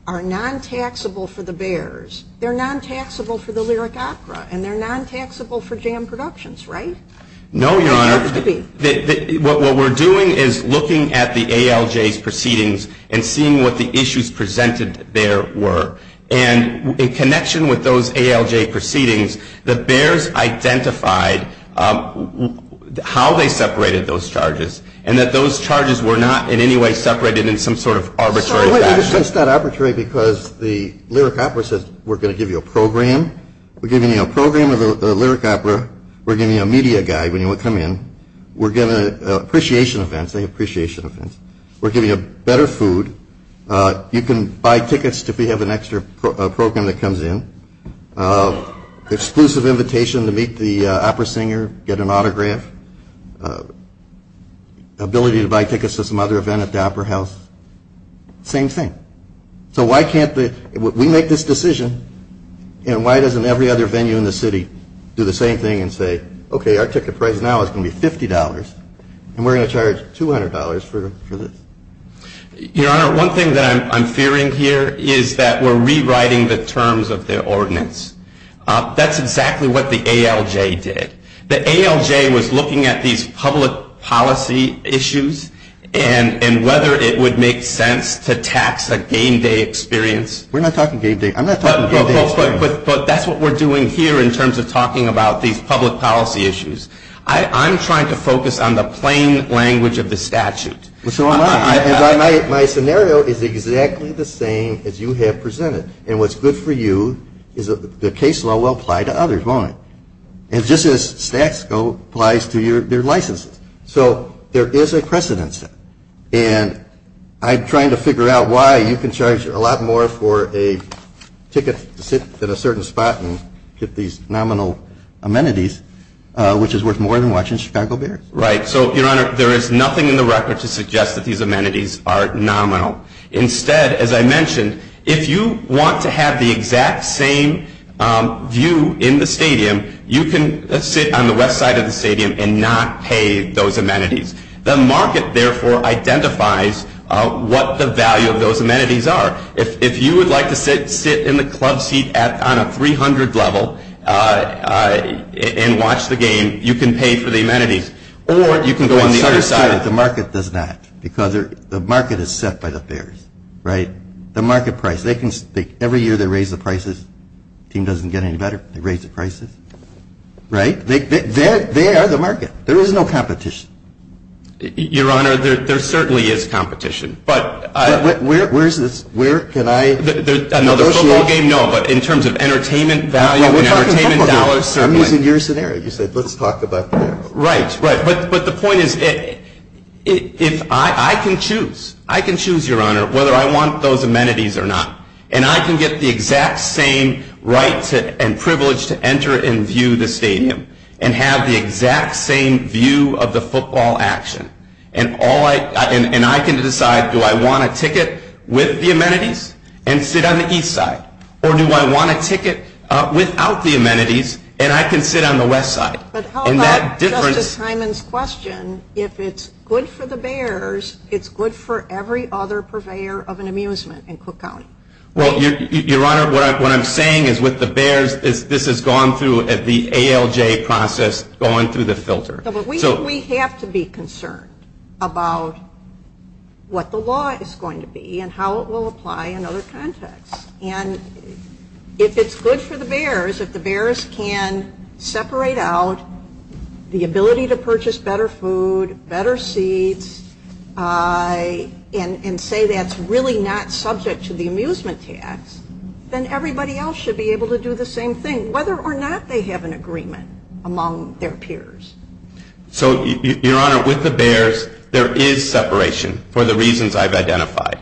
are non-taxable for the Bears, they're non-taxable for the Lyric Opera, and they're non-taxable for jam productions, right? No, Your Honor. What we're doing is looking at the ALJ's proceedings and seeing what the issues presented there were. And in connection with those ALJ proceedings, the Bears identified how they separated those charges and that those charges were not in any way separated in some sort of arbitrary fashion. It's not arbitrary because the Lyric Opera says we're going to give you a program. We're giving you a program of the Lyric Opera. We're giving you a media guide when you come in. We're giving appreciation events. We're giving you better food. You can buy tickets if you have an extra program that comes in. Exclusive invitation to meet the opera singer, get an autograph. Ability to buy tickets to some other event at the opera house. Same thing. So why can't we make this decision, and why doesn't every other venue in the city do the same thing and say, okay, our ticket price now is going to be $50, and we're going to charge $200 for this? Your Honor, one thing that I'm fearing here is that we're rewriting the terms of the ordinance. That's exactly what the ALJ did. The ALJ was looking at these public policy issues and whether it would make sense to tax a game day experience. We're not talking game day. I'm not talking game day experience. But that's what we're doing here in terms of talking about these public policy issues. I'm trying to focus on the plain language of the statute. What's going on? My scenario is exactly the same as you have presented, and what's good for you is the case law will apply to others, won't it? It's just as Statsco applies to your license. So there is a precedence, and I'm trying to figure out why you can charge a lot more for a ticket to sit at a certain spot and get these nominal amenities, which is worth more than watching Spangleberry. Right. So, Your Honor, there is nothing in the record to suggest that these amenities are nominal. Instead, as I mentioned, if you want to have the exact same view in the stadium, you can sit on the west side of the stadium and not pay those amenities. The market, therefore, identifies what the value of those amenities are. If you would like to sit in the club seat on a 300 level and watch the game, you can pay for the amenities, or you can go on the other side. The market does that because the market is set by the fares, right? The market price. Every year they raise the prices. The team doesn't get any better. They raise the prices. Right? They are the market. There is no competition. Your Honor, there certainly is competition. Where is this? Can I? There is another football game? No, but in terms of entertainment value and entertainment dollars. I'm using your scenario. You said let's talk about that. Right. But the point is, I can choose, Your Honor, whether I want those amenities or not. And I can get the exact same right and privilege to enter and view the stadium and have the exact same view of the football action. And I can decide, do I want a ticket with the amenities and sit on the east side? Or do I want a ticket without the amenities and I can sit on the west side? But how about Justice Hyman's question, if it's good for the Bears, it's good for every other purveyor of an amusement in Cook County? Well, Your Honor, what I'm saying is with the Bears, this has gone through the ALJ process, gone through the filter. We have to be concerned about what the law is going to be and how it will apply in other contexts. And if it's good for the Bears, if the Bears can separate out the ability to purchase better food, better seats, and say that's really not subject to the amusement tax, then everybody else should be able to do the same thing, whether or not they have an agreement among their peers. So, Your Honor, with the Bears, there is separation for the reasons I've identified.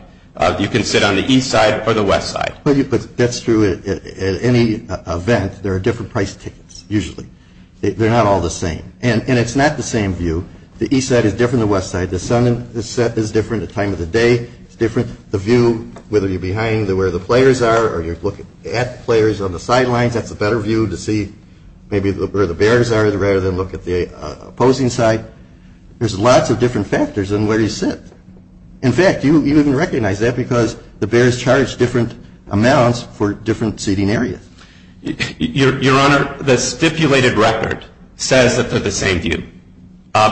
You can sit on the east side or the west side. That's true at any event. There are different price tickets usually. They're not all the same. And it's not the same view. The east side is different than the west side. The sun is different. The time of the day is different. The view, whether you're behind where the players are or you're looking at the players on the sideline, that's a better view to see maybe where the Bears are rather than look at the opposing side, there's lots of different factors in where you sit. In fact, you wouldn't recognize that because the Bears charge different amounts for different seating areas. Your Honor, the stipulated record says that they're the same view.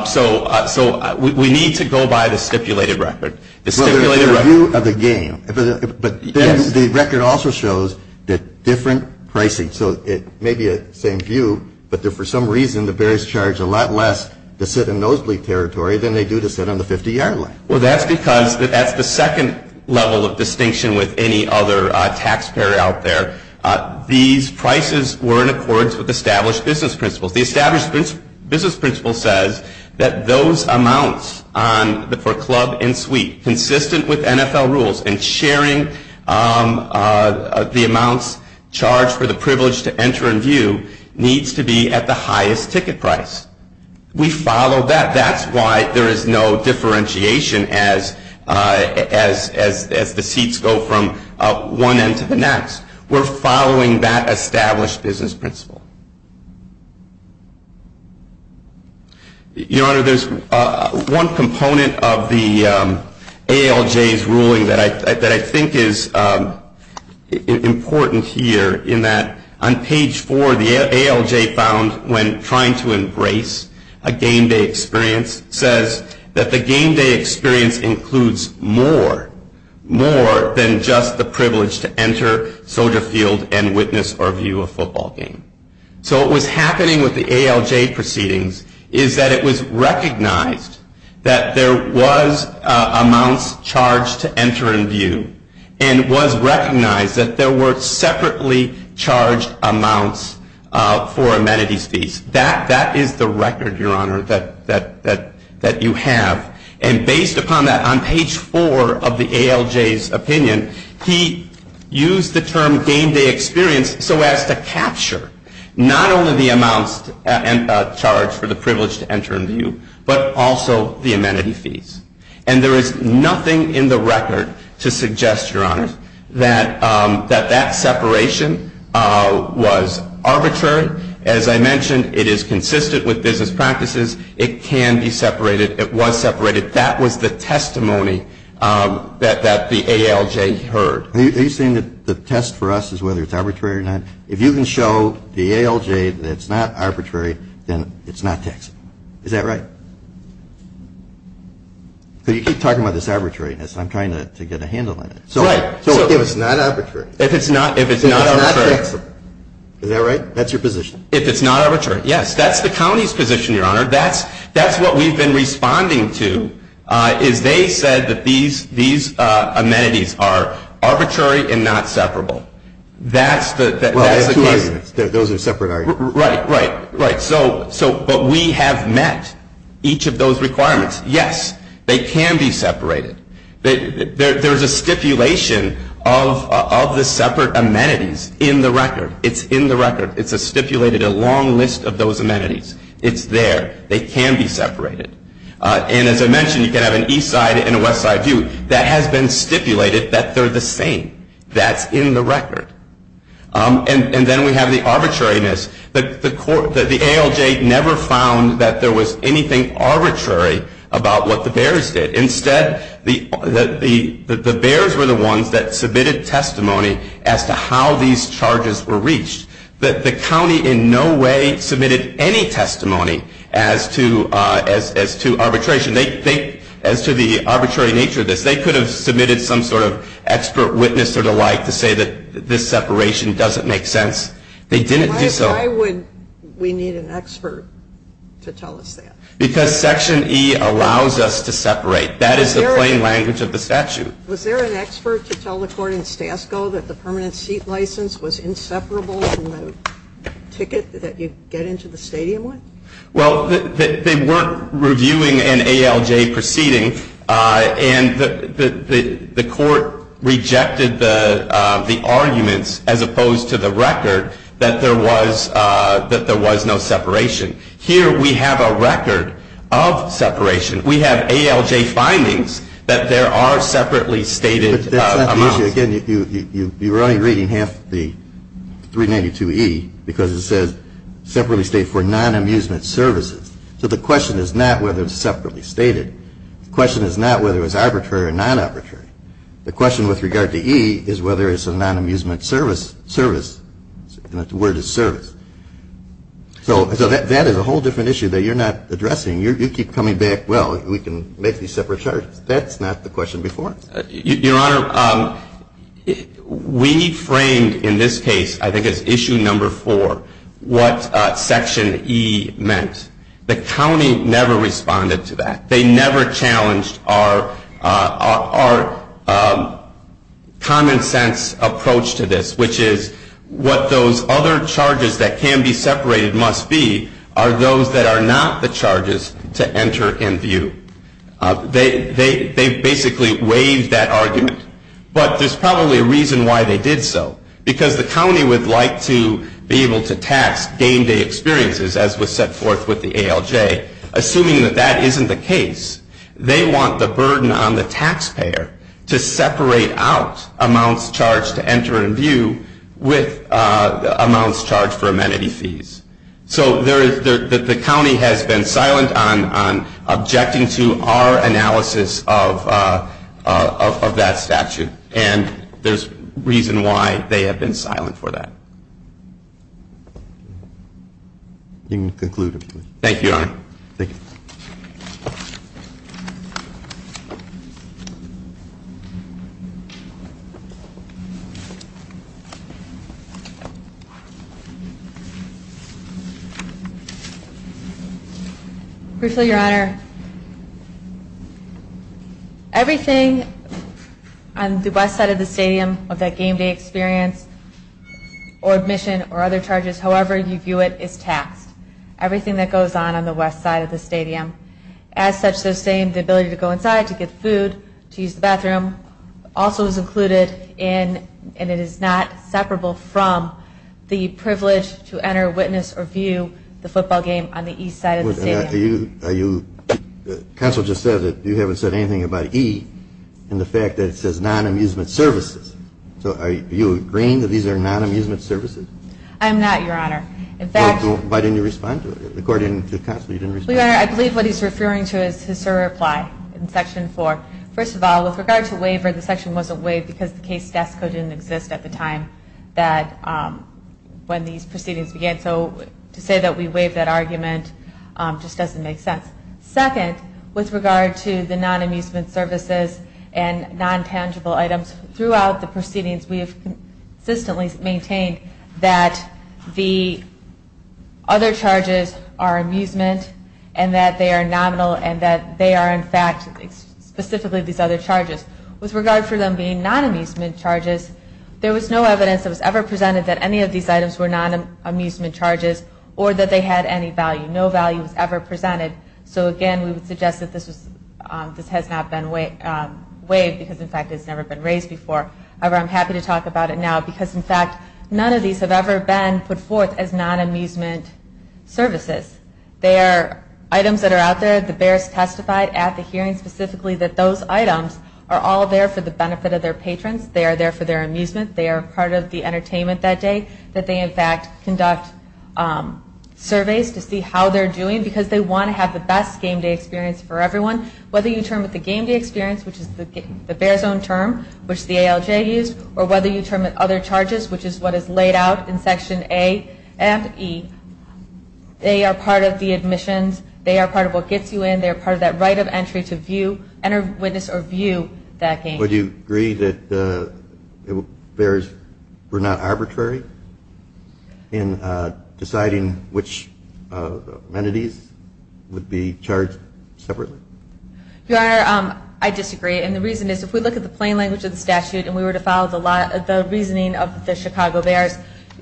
So we need to go by the stipulated record. Well, there's a view of the game, but the record also shows that different pricing, so it may be the same view, but for some reason the Bears charge a lot less to sit in nosebleed territory than they do to sit on the 50-yard line. Well, that's because at the second level of distinction with any other taxpayer out there, these prices were in accordance with established business principles. The established business principle says that those amounts for club and suite, consistent with NFL rules, and sharing the amounts charged for the privilege to enter a view needs to be at the highest ticket price. We follow that. That's why there is no differentiation as the seats go from one end to the next. We're following that established business principle. Your Honor, there's one component of the ALJ's ruling that I think is important here, in that on page four the ALJ found when trying to embrace a game day experience says that the game day experience includes more than just the privilege to enter a field and witness or view a football game. So what was happening with the ALJ proceedings is that it was recognized that there was amounts charged to enter in view and was recognized that there were separately charged amounts for amenity seats. That is the record, Your Honor, that you have. Based upon that, on page four of the ALJ's opinion, he used the term game day experience so as to capture not only the amounts charged for the privilege to enter a view, but also the amenity seats. There is nothing in the record to suggest, Your Honor, that that separation was arbitrary. As I mentioned, it is consistent with business practices. It can be separated. It was separated. That was the testimony that the ALJ heard. Are you saying that the test for us is whether it's arbitrary or not? If you can show the ALJ that it's not arbitrary, then it's not taxable. Is that right? So you keep talking about this arbitrariness. I'm trying to get a handle on it. Right. So if it's not arbitrary. If it's not arbitrary. Is that right? That's your position. If it's not arbitrary. Yes. That's the county's position, Your Honor. That's what we've been responding to is they said that these amenities are arbitrary and not separable. Those are separate items. Right, right, right. But we have met each of those requirements. Yes, they can be separated. There's a stipulation of the separate amenities in the record. It's in the record. It's a stipulated, a long list of those amenities. It's there. They can be separated. And as I mentioned, you can have an east side and a west side view. That has been stipulated that they're the same. That's in the record. And then we have the arbitrariness. The ALJ never found that there was anything arbitrary about what the Bears did. Instead, the Bears were the ones that submitted testimony as to how these charges were reached. The county in no way submitted any testimony as to arbitration. As to the arbitrary nature of this, they could have submitted some sort of expert witness or the like to say that this separation doesn't make sense. Why would we need an expert to tell us that? Because Section E allows us to separate. That is the plain language of the section. Was there an expert to tell the court in Stasko that the permanent seat license was inseparable from the ticket that you get into the stadium with? Well, they weren't reviewing an ALJ proceeding, and the court rejected the argument, as opposed to the record, that there was no separation. Here we have a record of separation. We have ALJ findings that there are separately stated amounts. Again, you're only reading half the 392E because it says separately stated for non-amusement services. So the question is not whether it's separately stated. The question is not whether it's arbitrary or non-arbitrary. The question with regard to E is whether it's a non-amusement service, and the word is service. So that is a whole different issue that you're not addressing. You keep coming back, well, we can make these separate charges. That's not the question before. Your Honor, we framed in this case, I think it's issue number four, what Section E meant. The county never responded to that. They never challenged our common sense approach to this, which is what those other charges that can be separated must be are those that are not the charges to enter in view. They basically raised that argument, but there's probably a reason why they did so, because the county would like to be able to tax game day experiences, as was set forth with the ALJ, assuming that that isn't the case. They want the burden on the taxpayer to separate out amounts charged to enter in view with amounts charged for amenity fees. So the county has been silent on objecting to our analysis of that statute, and there's reason why they have been silent for that. You may conclude, Your Honor. Thank you, Your Honor. Thank you. The west side of the stadium of that game day experience or admission or other charges, however you view it, is taxed. Everything that goes on on the west side of the stadium. As such, they're saying the ability to go inside, to get food, to use the bathroom, also is included, and it is not separable from the privilege to enter, witness, or view the football game on the east side of the stadium. Counsel just said that you haven't said anything about E and the fact that it says non-amusement services. So are you agreeing that these are non-amusement services? I'm not, Your Honor. Why didn't you respond to it? According to counsel, you didn't respond. I believe what he's referring to is his reply in Section 4. First of all, with regard to labor, the section wasn't waived because the case staff couldn't exist at the time when these proceedings began. So to say that we waived that argument just doesn't make sense. Second, with regard to the non-amusement services and non-tangible items, throughout the proceedings, we have consistently maintained that the other charges are amusement and that they are nonmal and that they are, in fact, specifically these other charges. With regard to them being non-amusement charges, there was no evidence that was ever presented that any of these items were non-amusement charges or that they had any value. No value was ever presented. So, again, we would suggest that this has not been waived because, in fact, it's never been raised before. However, I'm happy to talk about it now because, in fact, none of these have ever been put forth as non-amusement services. They are items that are out there. The bears testified at the hearing specifically that those items are all there for the benefit of their patrons. They are there for their amusement. They are part of the entertainment that day that they, in fact, conduct surveys to see how they're doing because they want to have the best game day experience for everyone. Whether you term it the game day experience, which is the bears' own term, which the ALJ used, or whether you term it other charges, which is what is laid out in Section A and E, they are part of the admissions. They are part of what gets you in. They are part of that right of entry to view, enter, witness, or view that game day. Would you agree that the bears were not arbitrary in deciding which amenities would be charged separately? Your Honor, I disagree. And the reason is, if we look at the plain language of the statute and we were to follow the reasoning of the Chicago Bears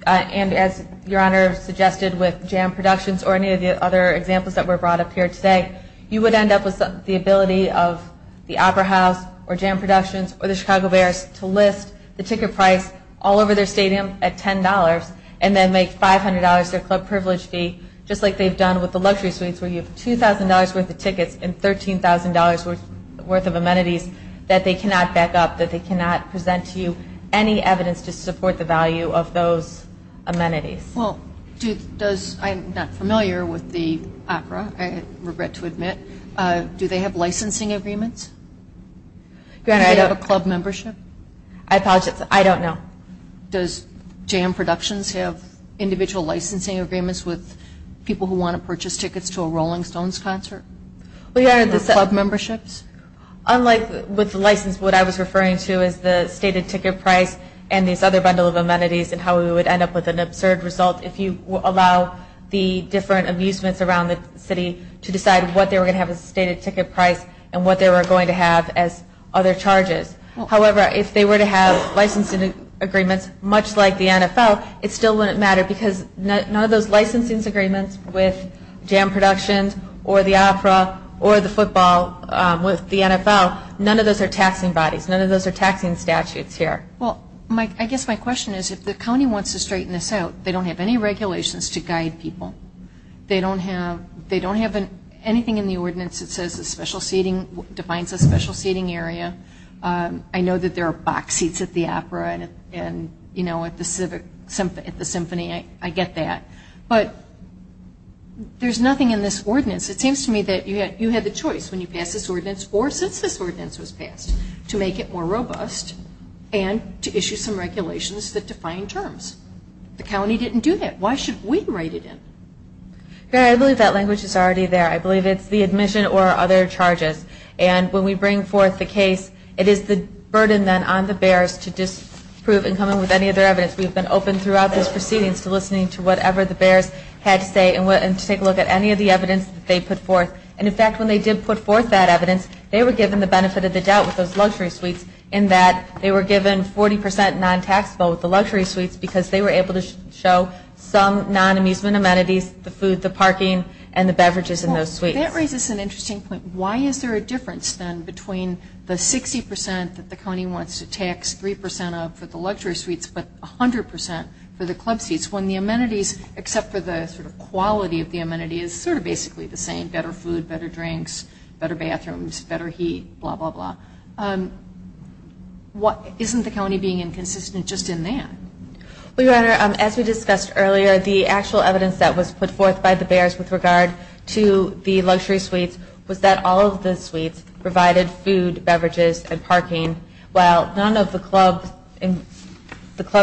and, as Your Honor suggested, with jam productions or any of the other examples that were brought up here today, you would end up with the ability of the Opera House or jam productions or the Chicago Bears to lift the ticket price all over their stadium at $10 and then make $500 their club privilege fee, just like they've done with the luxury suites where you have $2,000 worth of tickets and $13,000 worth of amenities that they cannot back up, that they cannot present to you any evidence to support the value of those amenities. Okay. Well, I'm not familiar with the opera. I regret to admit. Do they have licensing agreements? Do they have a club membership? I don't know. Does jam productions have individual licensing agreements with people who want to purchase tickets to a Rolling Stones concert? Do they have club memberships? Unlike with the license, what I was referring to is the stated ticket price and these other bundles of amenities and how we would end up with an absurd result if you allow the different amusements around the city to decide what they were going to have as the stated ticket price and what they were going to have as other charges. However, if they were to have licensing agreements, much like the NFL, it still wouldn't matter because none of those licensing agreements with jam productions or the opera or the NFL, none of those are taxing bodies. None of those are taxing statutes here. Well, I guess my question is if the county wants to straighten this out, they don't have any regulations to guide people. They don't have anything in the ordinance that defines a special seating area. I know that there are box seats at the opera and, you know, at the symphony. I get that. But there's nothing in this ordinance. It seems to me that you have a choice when you pass this ordinance or since this ordinance was passed to make it more robust and to issue some regulations that define terms. The county didn't do that. Why should we write it in? I believe that language is already there. I believe it's the admission or other charges. And when we bring forth the case, it is the burden then on the bears to disprove and come up with any other evidence. We've been open throughout this proceedings to listening to whatever the bears had to say and to take a look at any of the evidence that they put forth. And, in fact, when they did put forth that evidence, they were given the benefit of the doubt with those luxury suites in that they were given 40 percent non-taxable with the luxury suites because they were able to show some non-amusement amenities, the food, the parking, and the beverages in those suites. Well, that raises an interesting point. Why is there a difference then between the 60 percent that the county wants to tax 3 percent of except for the sort of quality of the amenity is sort of basically the same, better food, better drinks, better bathrooms, better heat, blah, blah, blah. Isn't the county being inconsistent just in that? Well, Your Honor, as we discussed earlier, the actual evidence that was put forth by the bears with regard to the luxury suite was that all of the suites provided food, beverages, and parking, while none of the club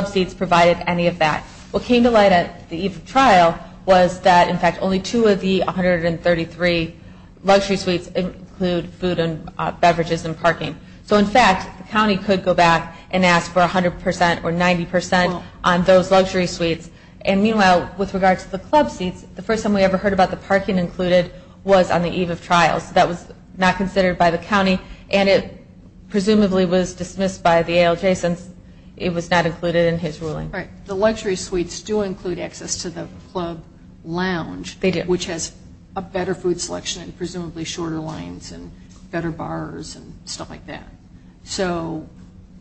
seats provided any of that. What came to light at the eve of trial was that, in fact, only two of the 133 luxury suites include food and beverages and parking. So, in fact, the county could go back and ask for 100 percent or 90 percent on those luxury suites. And, meanwhile, with regard to the club seats, the first time we ever heard about the parking included was on the eve of trial. That was not considered by the county, and it presumably was dismissed by the ALJ since it was not included in his ruling. Right. The luxury suites do include access to the club lounge, which has a better food selection and presumably shorter lines and better bars and stuff like that. So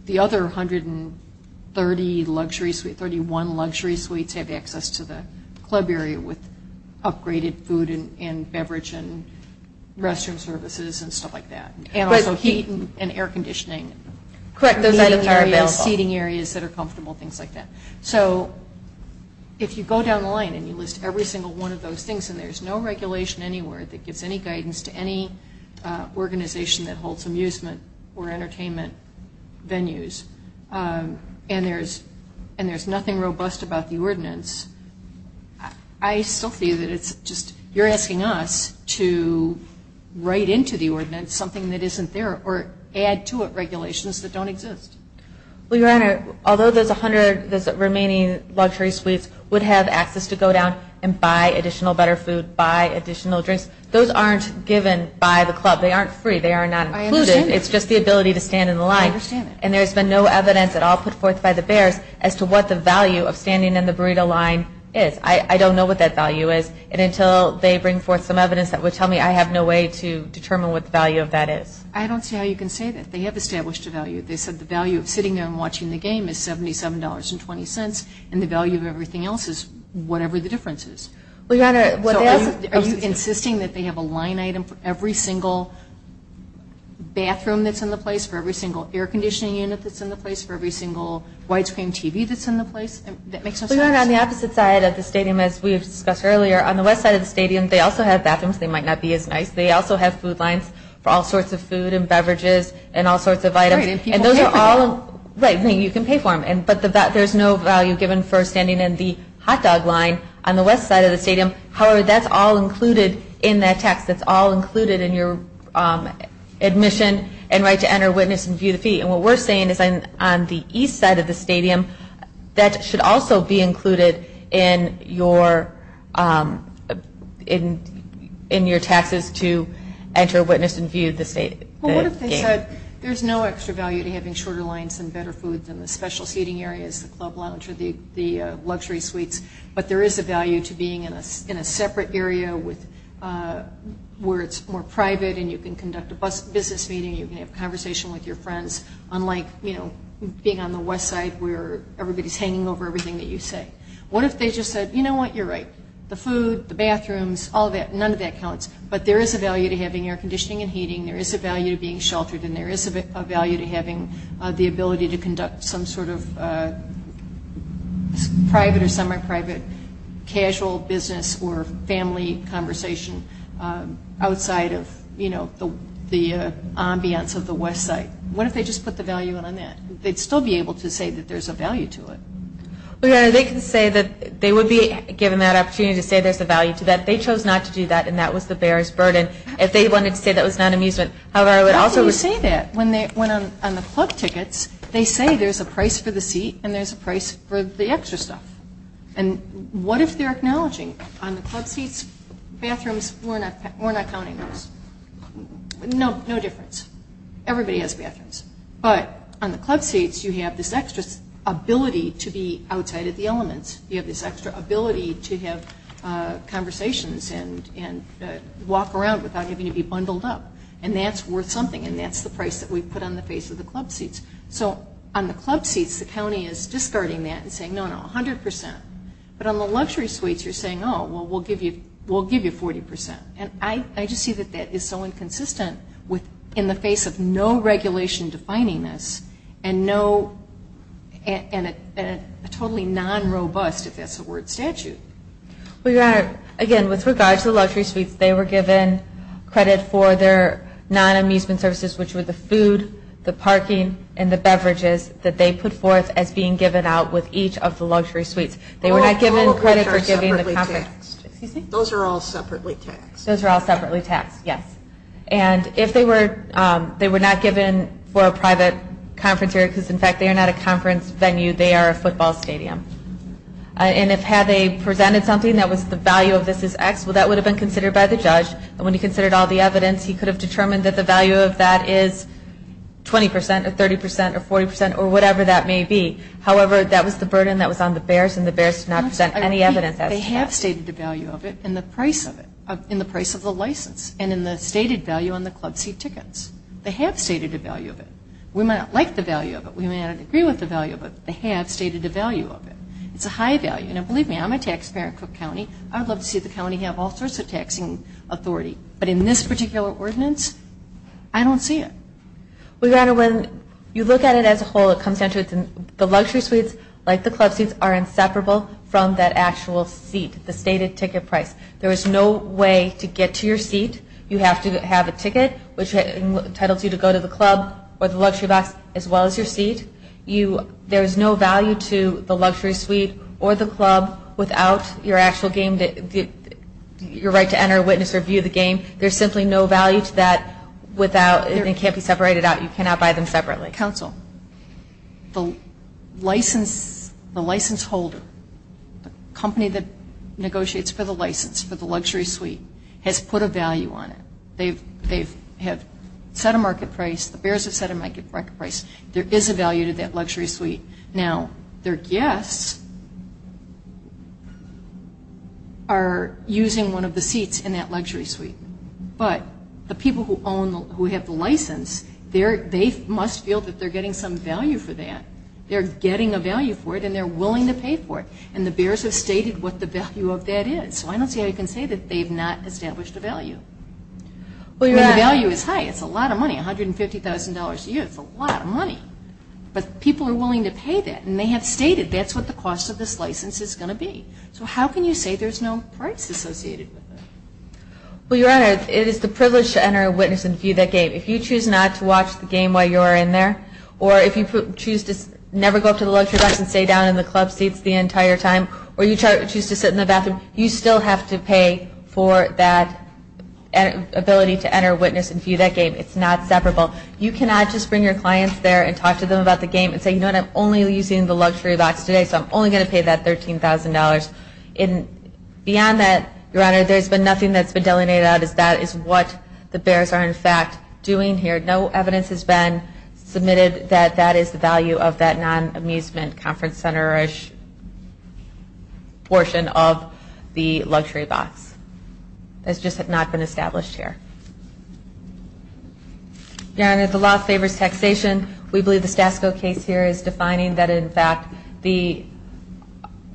the other 130 luxury suites, 31 luxury suites, had access to the club area with upgraded food and beverage and restroom services and stuff like that. And also heating and air conditioning. Correct. Heating areas that are comfortable, things like that. So, if you go down the line and you list every single one of those things, and there's no regulation anywhere that gives any guidance to any organization that holds amusement or entertainment venues, and there's nothing robust about the ordinance, I still feel that it's just, you're asking us to write into the ordinance something that isn't there or add to it regulations that don't exist. Well, Your Honor, although the remaining luxury suites would have access to go down and buy additional butter food, buy additional drinks, those aren't given by the club. They aren't free. They are not included. I understand that. It's just the ability to stand in the line. I understand that. And there's been no evidence at all put forth by the barracks as to what the value of standing in the burrito line is. I don't know what that value is. And until they bring forth some evidence, that would tell me I have no way to determine what the value of that is. I don't see how you can say that. They have established a value. They said the value of sitting there and watching the game is $77.20, and the value of everything else is whatever the difference is. Are you insisting that they have a line item for every single bathroom that's in the place, for every single air conditioning unit that's in the place, for every single widescreen TV that's in the place? Well, Your Honor, on the opposite side of the stadium, as we discussed earlier, on the west side of the stadium, they also have bathrooms. They might not be as nice. They also have food lines for all sorts of food and beverages and all sorts of items. All right. And people pay for them. Right. I mean, you can pay for them. But there's no value given for standing in the hot dog line on the west side of the stadium. However, that's all included in that tax. That's all included in your admission and right to enter, witness, and view the feet. And what we're saying is on the east side of the stadium, that should also be included in your taxes to enter, witness, and view the game. There's no extra value to having shorter lines and better food than the special seating areas, the club lounge or the luxury suites. But there is a value to being in a separate area where it's more private and you can conduct a business meeting. You can have a conversation with your friends, unlike, you know, being on the west side where everybody's hanging over everything that you say. What if they just said, you know what, you're right. The food, the bathrooms, all that, none of that counts. But there is a value to having air conditioning and heating. There is a value to being sheltered. And there is a value to having the ability to conduct some sort of private or semi-private casual business or family conversation outside of, you know, the ambience of the west side. What if they just put the value on that? They'd still be able to say that there's a value to it. They can say that they would be given that opportunity to say there's a value to that. They chose not to do that and that was the bearer's burden. If they wanted to say that was not amusement. However, I would also say that when on the club tickets, they say there's a price for the seat and there's a price for the extra stuff. And what if they're acknowledging on the club seats, bathrooms, we're not going to use. No, no difference. Everybody has bathrooms. But on the club seats, you have this extra ability to be outside of the element. You have this extra ability to have conversations and walk around without having to be bundled up. And that's worth something and that's the price that we've put on the face of the club seats. So on the club seats, the county is discarding that and saying, no, no, 100%. But on the luxury suites, you're saying, oh, well, we'll give you 40%. And I just see that that is so inconsistent in the face of no regulation defining this and a totally non-robust, if that's the word, statute. Again, with regard to luxury suites, they were given credit for their non-amusement services, which were the food, the parking, and the beverages that they put forth as being given out with each of the luxury suites. They were not given credit for giving the conference. Those are all separately taxed. Those are all separately taxed, yes. And if they were not given for a private conference area, because, in fact, they are not a conference venue, they are a football stadium. And if had they presented something that was the value of this is X, well, that would have been considered by the judge. And when he considered all the evidence, he could have determined that the value of that is 20%, or 30%, or 40%, or whatever that may be. However, that was the burden that was on the bears, and the bears did not present any evidence of that. They have stated the value of it in the price of it, in the price of the license, and in the stated value on the club seat tickets. They have stated the value of it. We may not like the value of it. We may not agree with the value of it. But they have stated the value of it. It's a high value. Now, believe me, I'm a taxpayer for the county. I would love to see the county have all sorts of taxing authority. But in this particular ordinance, I don't see it. Well, your Honor, when you look at it as a whole, it comes down to the luxury suites, like the club seats, are inseparable from that actual seat, the stated ticket price. There is no way to get to your seat. You have to have a ticket, which entitles you to go to the club or the luxury box, as well as your seat. There is no value to the luxury suite or the club without your actual game, your right to enter, witness, or view the game. There's simply no value to that without it. It can't be separated out. You cannot buy them separately. Counsel, the license holder, the company that negotiates for the license, for the luxury suite, has put a value on it. They have set a market price. The bears have set a market price. There is a value to that luxury suite. Now, their guests are using one of the seats in that luxury suite. But the people who own, who have the license, they must feel that they're getting some value for that. They're getting a value for it, and they're willing to pay for it. And the bears have stated what the value of that is. So I don't see how you can say that they've not established a value. The value is high. It's a lot of money, $150,000 a year. It's a lot of money. But people are willing to pay that, and they have stated that's what the cost of this license is going to be. So how can you say there's no price associated with it? Well, Your Honor, it is a privilege to enter, witness, and view that game. If you choose not to watch the game while you are in there, or if you choose to never go to the luxury box and stay down in the club seats the entire time, or you choose to sit in the bathroom, you still have to pay for that ability to enter, witness, and view that game. It's not separable. You cannot just bring your clients there and talk to them about the game and say, you know what, I'm only using the luxury box today because I'm only going to pay that $13,000. Beyond that, Your Honor, there's been nothing that's been delineated out as that is what the bears are, in fact, doing here. No evidence has been submitted that that is the value of that non-amusement conference center-ish portion of the luxury box. That's just not been established here. Your Honor, the law favors taxation. We believe the SASCO case here is defining that, in fact, the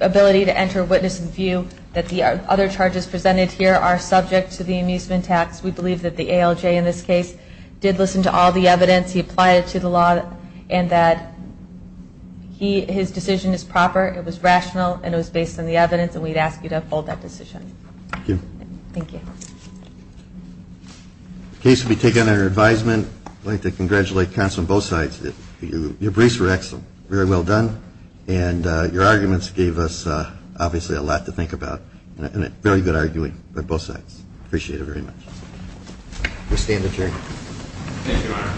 ability to enter, witness, and view that the other charges presented here are subject to the amusement tax. We believe that the ALJ in this case did listen to all the evidence, he applied it to the law, and that his decision is proper, it was rational, and it was based on the evidence, and we'd ask you to uphold that decision. Thank you. Thank you. The case will be taken under advisement. I'd like to congratulate counsel on both sides. Your briefs were excellent. Very well done. And your arguments gave us, obviously, a lot to think about and very good arguing on both sides. Appreciate it very much. We stand adjourned. Thank you, Your Honor.